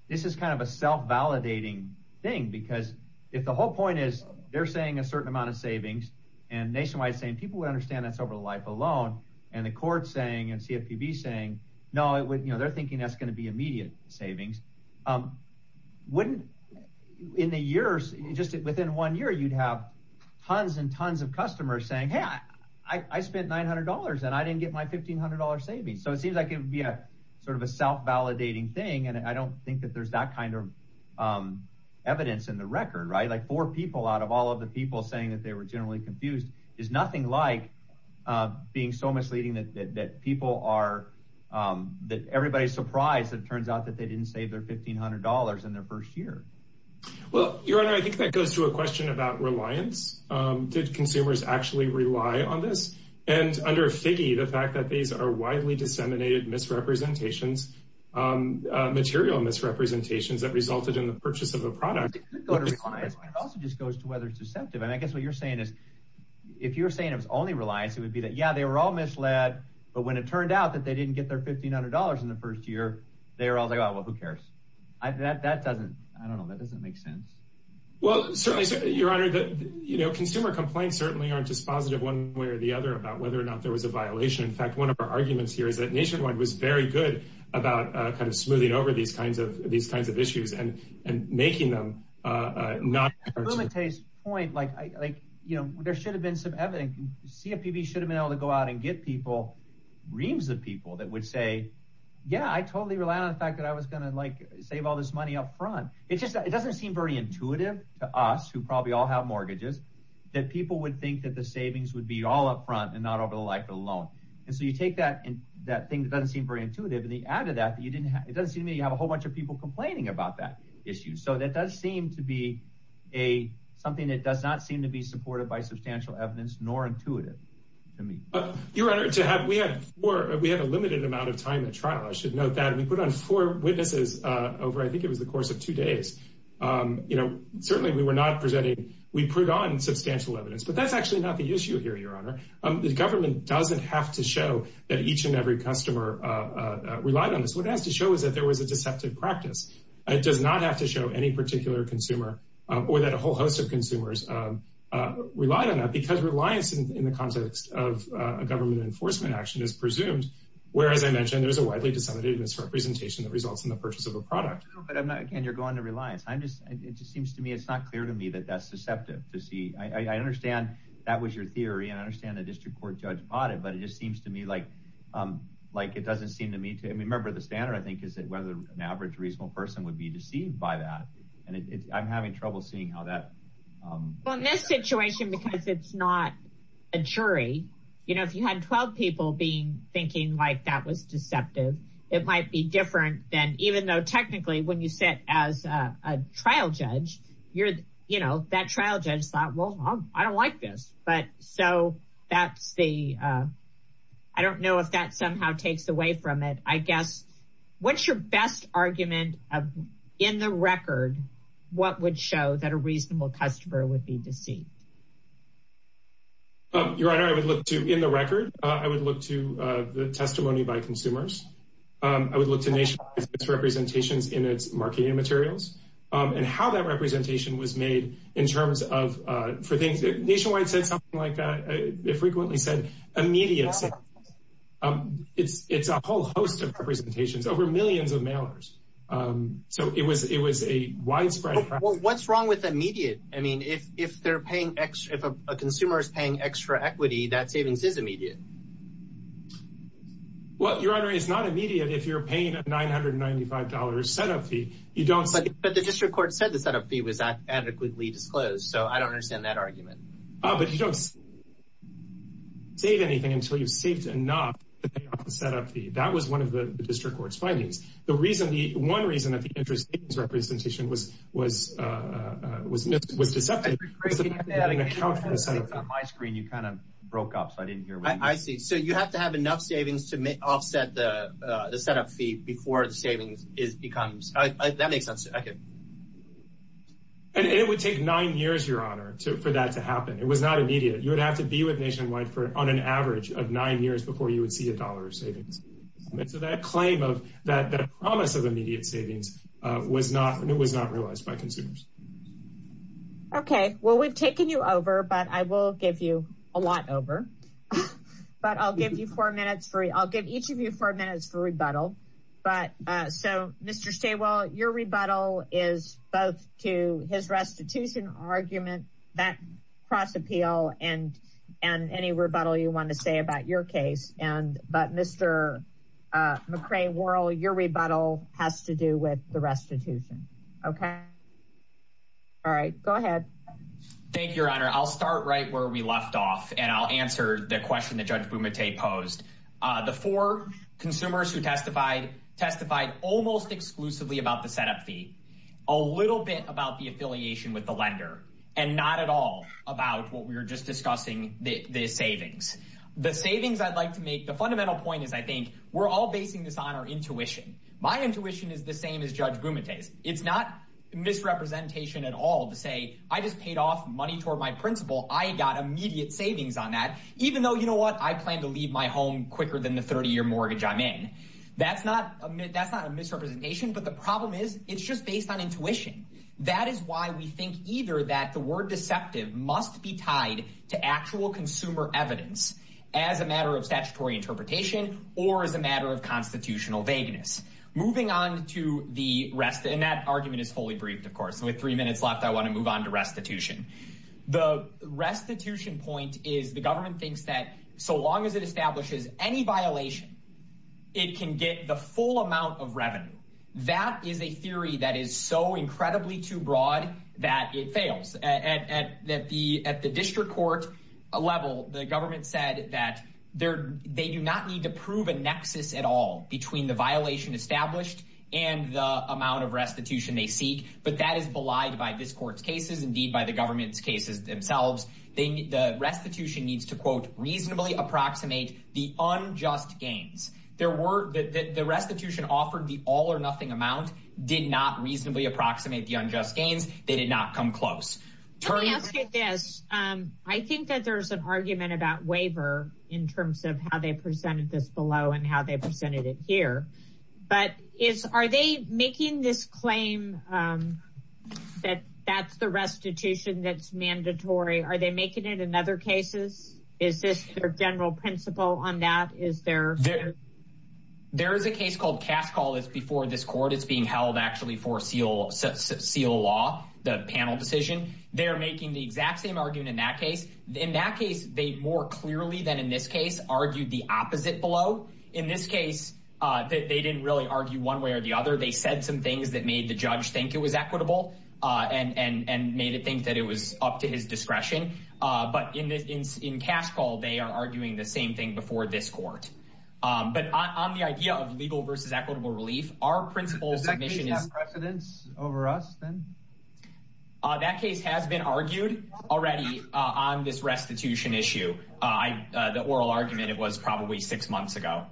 this is kind of a self-validating thing. Because if the whole point is they're saying a certain amount of savings and Nationwide saying people would understand that's over life alone and the court saying and CFPB saying no, you know, they're thinking that's going to be immediate savings. In the years, just within one year, you'd have tons and tons of customers saying, hey, I spent $900 and I didn't get my $1,500 savings. So it seems like it would be a sort of a self-validating thing and I don't think that there's that kind of evidence in the record, right? Like four people out of all of the people saying that they were generally confused is like being so misleading that people are that everybody's surprised. It turns out that they didn't save their $1,500 in their first year. Well, your Honor, I think that goes to a question about reliance. Did consumers actually rely on this and under a figgy, the fact that these are widely disseminated misrepresentations material misrepresentations that resulted in the purchase of a product. It also just goes to whether it's deceptive and I guess what you're saying is if you're saying it was only reliance, it would be that, yeah, they were all misled, but when it turned out that they didn't get their $1,500 in the first year, they were all like, oh, well, who cares? That doesn't, I don't know. That doesn't make sense. Well, certainly, your Honor, consumer complaints certainly aren't just positive one way or the other about whether or not there was a violation. In fact, one of our arguments here is that Nationwide was very good about kind of smoothing over these kinds of issues and making them not. Rumate's point, like, you know, there should have been some evidence. CFPB should have been able to go out and get people, reams of people that would say, yeah, I totally rely on the fact that I was going to like save all this money up front. It just, it doesn't seem very intuitive to us who probably all have mortgages that people would think that the savings would be all up front and not over the life of the loan. And so you take that and that thing that doesn't seem very intuitive. And the added that you didn't have, it doesn't seem to me you have a whole bunch of people complaining about that issue. So that does seem to be a something that does not seem to be supported by substantial evidence, nor intuitive to me. Your Honor, to have, we have four, we have a limited amount of time at trial. I should note that we put on four witnesses over, I think it was the course of two days. You know, certainly we were not presenting, we put on substantial evidence, but that's actually not the issue here, your Honor. The government doesn't have to show that each and every customer relied on this. What it has to show is that there was a deceptive practice. It does not have to show any particular consumer, or that a whole host of consumers relied on that, because reliance in the context of a government enforcement action is presumed, whereas I mentioned there's a widely disseminated misrepresentation that results in the purchase of a product. No, but I'm not, again, you're going to reliance. I'm just, it just seems to me, it's not clear to me that that's susceptible to see. I understand that was your theory, and I understand the district court judge bought it, but it just seems to me like it doesn't seem to me to, I mean, remember the standard, I think, is that whether an average reasonable person would be deceived by that, and I'm having trouble seeing how that. Well, in this situation, because it's not a jury, you know, if you had 12 people being, thinking like that was deceptive, it might be different than, even though technically when you sit as a trial judge, you're, you know, that trial judge thought, well, I don't like this, but so that's the, I don't know if that somehow takes away from it. I guess, what's your best argument of, in the record, what would show that a reasonable customer would be deceived? Your Honor, I would look to, in the record, I would look to the testimony by consumers. I would look to Nationwide's representations in its marketing materials, and how that representation was made in terms of, for things, Nationwide said something like, they frequently said, immediate sales. Um, it's, it's a whole host of representations over millions of mailers. Um, so it was, it was a widespread. What's wrong with immediate? I mean, if, if they're paying extra, if a consumer is paying extra equity, that savings is immediate. Well, Your Honor, it's not immediate if you're paying a $995 setup fee, you don't say. But the district court said the setup fee was adequately disclosed, so I don't understand that argument. Ah, but you don't save anything until you've saved enough to pay off the setup fee. That was one of the district court's findings. The reason, the one reason that the interest representation was, was, uh, uh, was missed, was deceptive, was that they didn't account for the setup fee. On my screen, you kind of broke up, so I didn't hear what you said. I see, so you have to have enough savings to offset the, uh, the setup fee before the savings is, becomes, uh, that makes sense, okay. And, and it would take nine years, Your Honor, to, for that to happen. It was not immediate. You would have to be with Nationwide for, on an average of nine years before you would see a dollar of savings. And so that claim of, that, that promise of immediate savings, uh, was not, it was not realized by consumers. Okay, well, we've taken you over, but I will give you a lot over. But I'll give you four minutes for, I'll give each of you four minutes for rebuttal. But, uh, so Mr. Stawell, your rebuttal is both to his restitution argument, that cross appeal and, and any rebuttal you want to say about your case. And, but Mr. McRae-Worrell, your rebuttal has to do with the restitution. Okay, all right, go ahead. Thank you, Your Honor. I'll start right where we left off and I'll answer the question that Judge Bumate posed. The four consumers who testified, testified almost exclusively about the setup fee, a little bit about the affiliation with the lender, and not at all about what we were just discussing, the, the savings. The savings I'd like to make, the fundamental point is, I think, we're all basing this on our intuition. My intuition is the same as Judge Bumate's. It's not misrepresentation at all to say, I just paid off money toward my principal. I got immediate savings on that, even though, you know what? I plan to leave my home quicker than the 30-year mortgage I'm in. That's not, that's not a misrepresentation. But the problem is, it's just based on intuition. That is why we think either that the word deceptive must be tied to actual consumer evidence as a matter of statutory interpretation or as a matter of constitutional vagueness. Moving on to the rest, and that argument is fully briefed, of course. So with three minutes left, I want to move on to restitution. The restitution point is the government thinks that so long as it establishes any violation, it can get the full amount of revenue. That is a theory that is so incredibly too broad that it fails. That the, at the district court level, the government said that they're, they do not need to prove a nexus at all between the violation established and the amount of restitution they seek. But that is belied by this court's cases, indeed by the government's cases themselves. They, the restitution needs to quote, reasonably approximate the unjust gains. There were, the restitution offered the all or nothing amount did not reasonably approximate the unjust gains. They did not come close. Let me ask you this. I think that there's an argument about waiver in terms of how they presented this below and how they presented it here. But is, are they making this claim that that's the restitution that's mandatory? Are they making it in other cases? Is this their general principle on that? Is there, there is a case called cast call is before this court. It's being held actually for seal, seal law, the panel decision. They're making the exact same argument in that case. In that case, they more clearly than in this case argued the opposite below. In this case that they didn't really argue one way or the other. They said some things that made the judge think it was equitable and, and, and made it think that it was up to his discretion. But in this, in, in cash call, they are arguing the same thing before this court. But on the idea of legal versus equitable relief, our principle submission is precedence over us. That case has been argued already on this restitution issue. I, the oral argument, it was probably six months ago.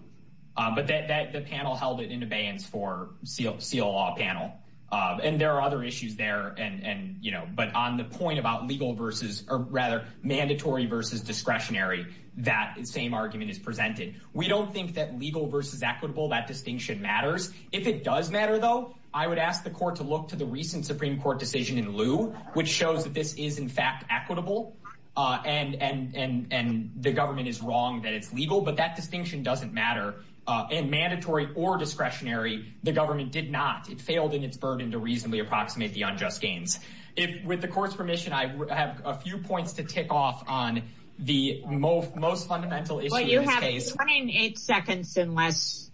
But that, that, the panel held it in abeyance for seal, seal law panel. And there are other issues there. And, and, you know, but on the point about legal versus, or rather mandatory versus discretionary, that same argument is presented. We don't think that legal versus equitable, that distinction matters. If it does matter though, I would ask the court to look to the recent Supreme Court decision in lieu, which shows that this is in fact equitable. And, and, and, and the government is wrong that it's legal, but that distinction doesn't matter. And mandatory or discretionary, the government did not, it failed in its burden to reasonably approximate the unjust gains. If with the court's permission, I have a few points to tick off on the most, most fundamental issue in this case. You have 28 seconds in less.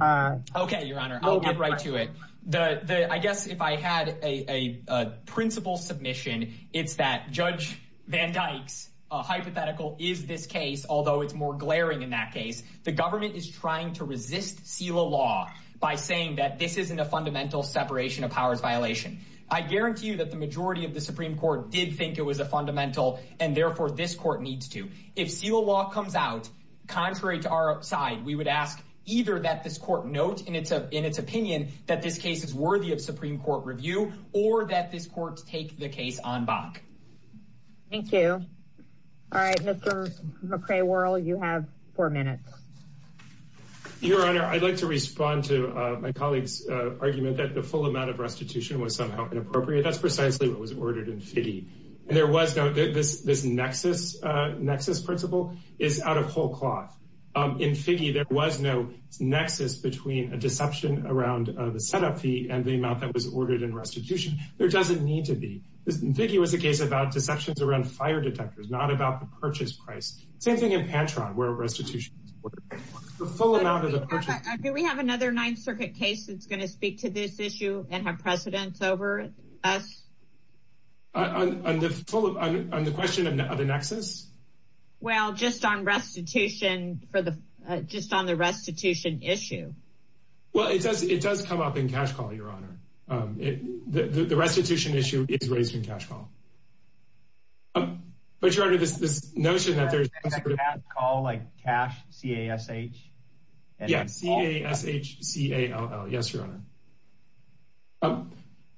Okay. Your honor, I'll get right to it. The, the, I guess if I had a, a, a principal submission, it's that judge Van Dyke's a hypothetical is this case. Although it's more glaring in that case, the government is trying to resist seal law by saying that this isn't a fundamental separation of powers violation. I guarantee you that the majority of the Supreme Court did think it was a fundamental. And therefore this court needs to, if seal law comes out, contrary to our side, we would ask either that this court note in its, in its opinion, that this case is worthy of Supreme court review or that this court take the case on Bach. Thank you. All right. Mr. McRae world, you have four minutes. Your honor. I'd like to respond to my colleague's argument that the full amount of restitution was somehow inappropriate. That's precisely what was ordered in city. And there was no, this, this nexus nexus principle is out of whole cloth. In Figge, there was no nexus between a deception around the setup fee and the amount that was ordered in restitution. There doesn't need to be. In Figge was a case about deceptions around fire detectors, not about the purchase price. Same thing in Pantron where restitution full amount of the purchase. Do we have another ninth circuit case? That's going to speak to this issue and have precedence over us. On the question of the nexus. Well, just on restitution for the, just on the restitution issue. Well, it does, it does come up in cash call your honor. The restitution issue is raised in cash call, but you're under this, this notion that there's all like cash CASH. Yeah. CASH, C-A-L-L. Yes, your honor.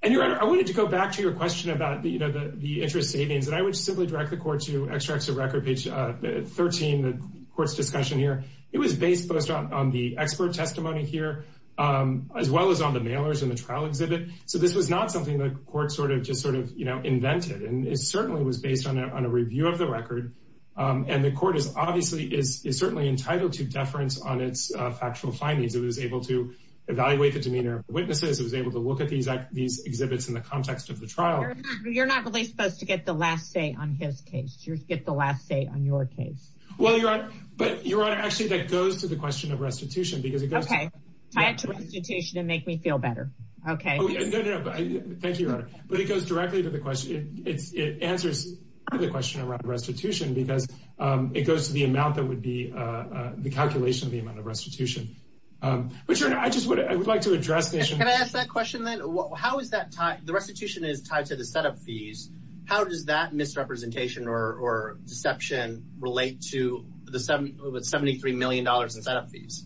And your honor, I wanted to go back to your question about the, you know, the interest savings that I would simply direct the court to extracts of record page 13, the court's discussion here. It was based on the expert testimony here, as well as on the mailers in the trial exhibit. So this was not something that court sort of just sort of, you know, invented and it certainly was based on a review of the record. And the court is obviously is certainly entitled to deference on its factual findings. It was able to evaluate the demeanor of witnesses. It was able to look at these, these exhibits in the context of the trial. You're not really supposed to get the last say on his case. You get the last say on your case. Well, your honor, but your honor, actually that goes to the question of restitution, because it goes to restitution and make me feel better. Okay. Thank you, your honor. But it goes directly to the question. It's, it answers the question around restitution because it goes to the amount that would be the calculation of the amount of restitution. But I just would, I would like to address this. Can I ask that question then? How is that tied? The restitution is tied to the setup fees. How does that misrepresentation or deception relate to the $73 million in setup fees?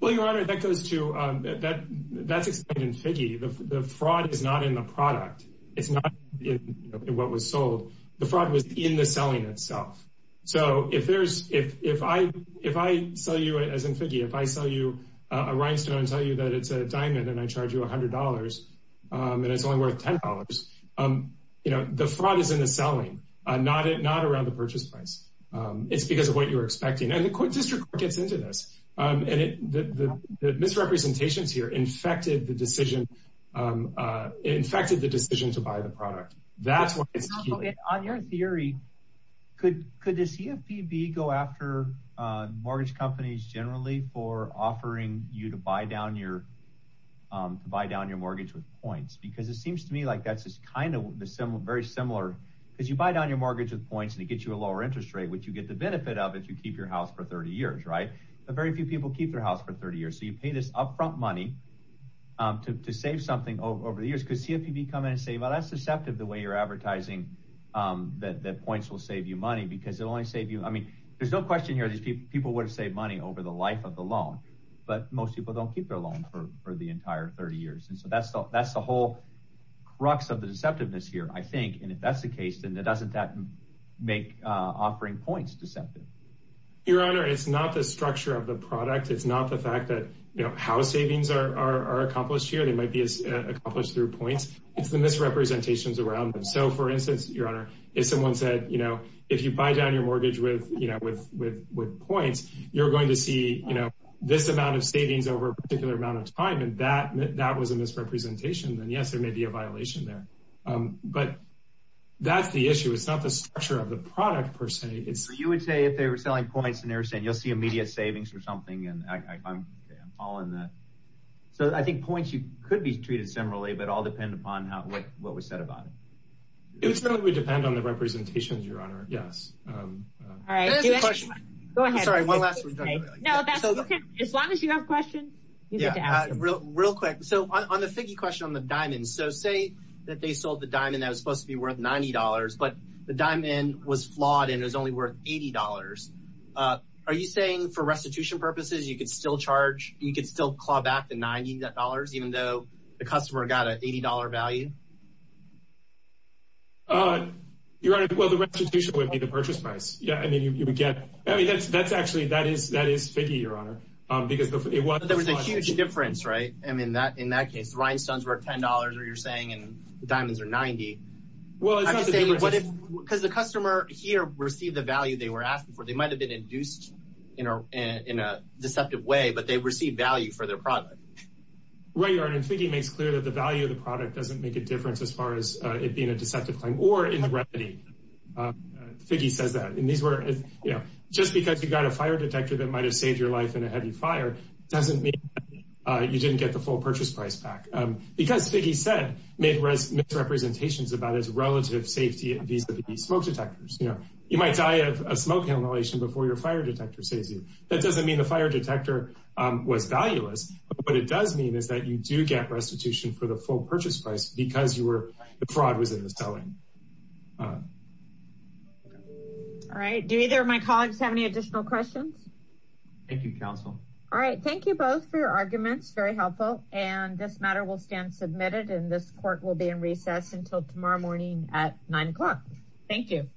Well, your honor, that goes to that, that's explained in Figge. The fraud is not in the product. It's not in what was sold. The fraud was in the selling itself. So if there's, if, if I, if I sell you as in Figge, if I sell you a rhinestone and tell you that it's a diamond and I charge you $100, it's only worth $10. You know, the fraud is in the selling, not it, not around the purchase price. It's because of what you were expecting. And the court district gets into this. And it, the, the, the misrepresentations here infected the decision, infected the decision to buy the product. That's why it's on your theory. Could, could the CFPB go after mortgage companies generally for offering you to buy down your, to buy down your mortgage with points? Because it seems to me like that's just kind of the similar, very similar. Cause you buy down your mortgage with points and it gets you a lower interest rate, which you get the benefit of if you keep your house for 30 years, right? But very few people keep their house for 30 years. So you pay this upfront money to, to save something over the years. Cause CFPB come in and say, well, that's deceptive. The way you're advertising that, that points will save you money because it'll only save you. I mean, there's no question here. These people, people would have saved money over the life of the loan, but most people don't keep their loan for the entire 30 years. And so that's the, that's the whole crux of the deceptiveness here, I think. And if that's the case, then it doesn't, that make offering points deceptive. Your honor, it's not the structure of the product. It's not the fact that, you know, how savings are, are, are accomplished here. They might be as accomplished through points. It's the misrepresentations around them. So for instance, your honor, if someone said, you know, if you buy down your mortgage with, you know, with, with, with points, you're going to see, you know, this amount of savings over a particular amount of time. And that, that was a misrepresentation. Then yes, there may be a violation there. But that's the issue. It's not the structure of the product per se. It's, you would say if they were selling points and they were saying, you'll see immediate savings or something. And I, I'm, I'm following that. So I think points, you could be treated similarly, but all depend upon how, what, what was said about it. It would certainly depend on the representations, your honor. Yes. All right. Go ahead. Sorry. One last one. As long as you have questions. Yeah. Real quick. So on the figgy question on the diamonds, so say that they sold the diamond that was supposed to be worth $90, but the diamond was flawed and it was only worth $80. Are you saying for restitution purposes, you could still charge, you could still claw back the $90, even though the customer got an $80 value? Your honor. Well, the restitution would be the purchase price. Yeah. I mean, you would get, I mean, that's, that's actually, that is, that is figgy, your honor. Because there was a huge difference, right? I mean, that, in that case, rhinestones were $10 or you're saying, and the diamonds are 90. Well, I'm just saying, what if, because the customer here received the value they were asking for, they might've been induced in a, in a deceptive way, but they received value for their product. Right. Your honor, figgy makes clear that the value of the product doesn't make a difference as far as it being a deceptive claim or in remedy. Figgy says that, and these were, you know, just because you got a fire detector that might've saved your life in a heavy fire, doesn't mean you didn't get the full purchase price back. Because figgy said, made misrepresentations about his relative safety and these smoke detectors, you know, you might die of a smoke inhalation before your fire detector saves you. That doesn't mean the fire detector was valueless, but what it does mean is that you do get restitution for the full purchase price because you were, the fraud was in the selling. All right. Do either of my colleagues have any additional questions? Thank you, counsel. All right. Thank you both for your arguments. Very helpful. And this matter will stand submitted and this court will be in recess until tomorrow morning at nine o'clock. Thank you.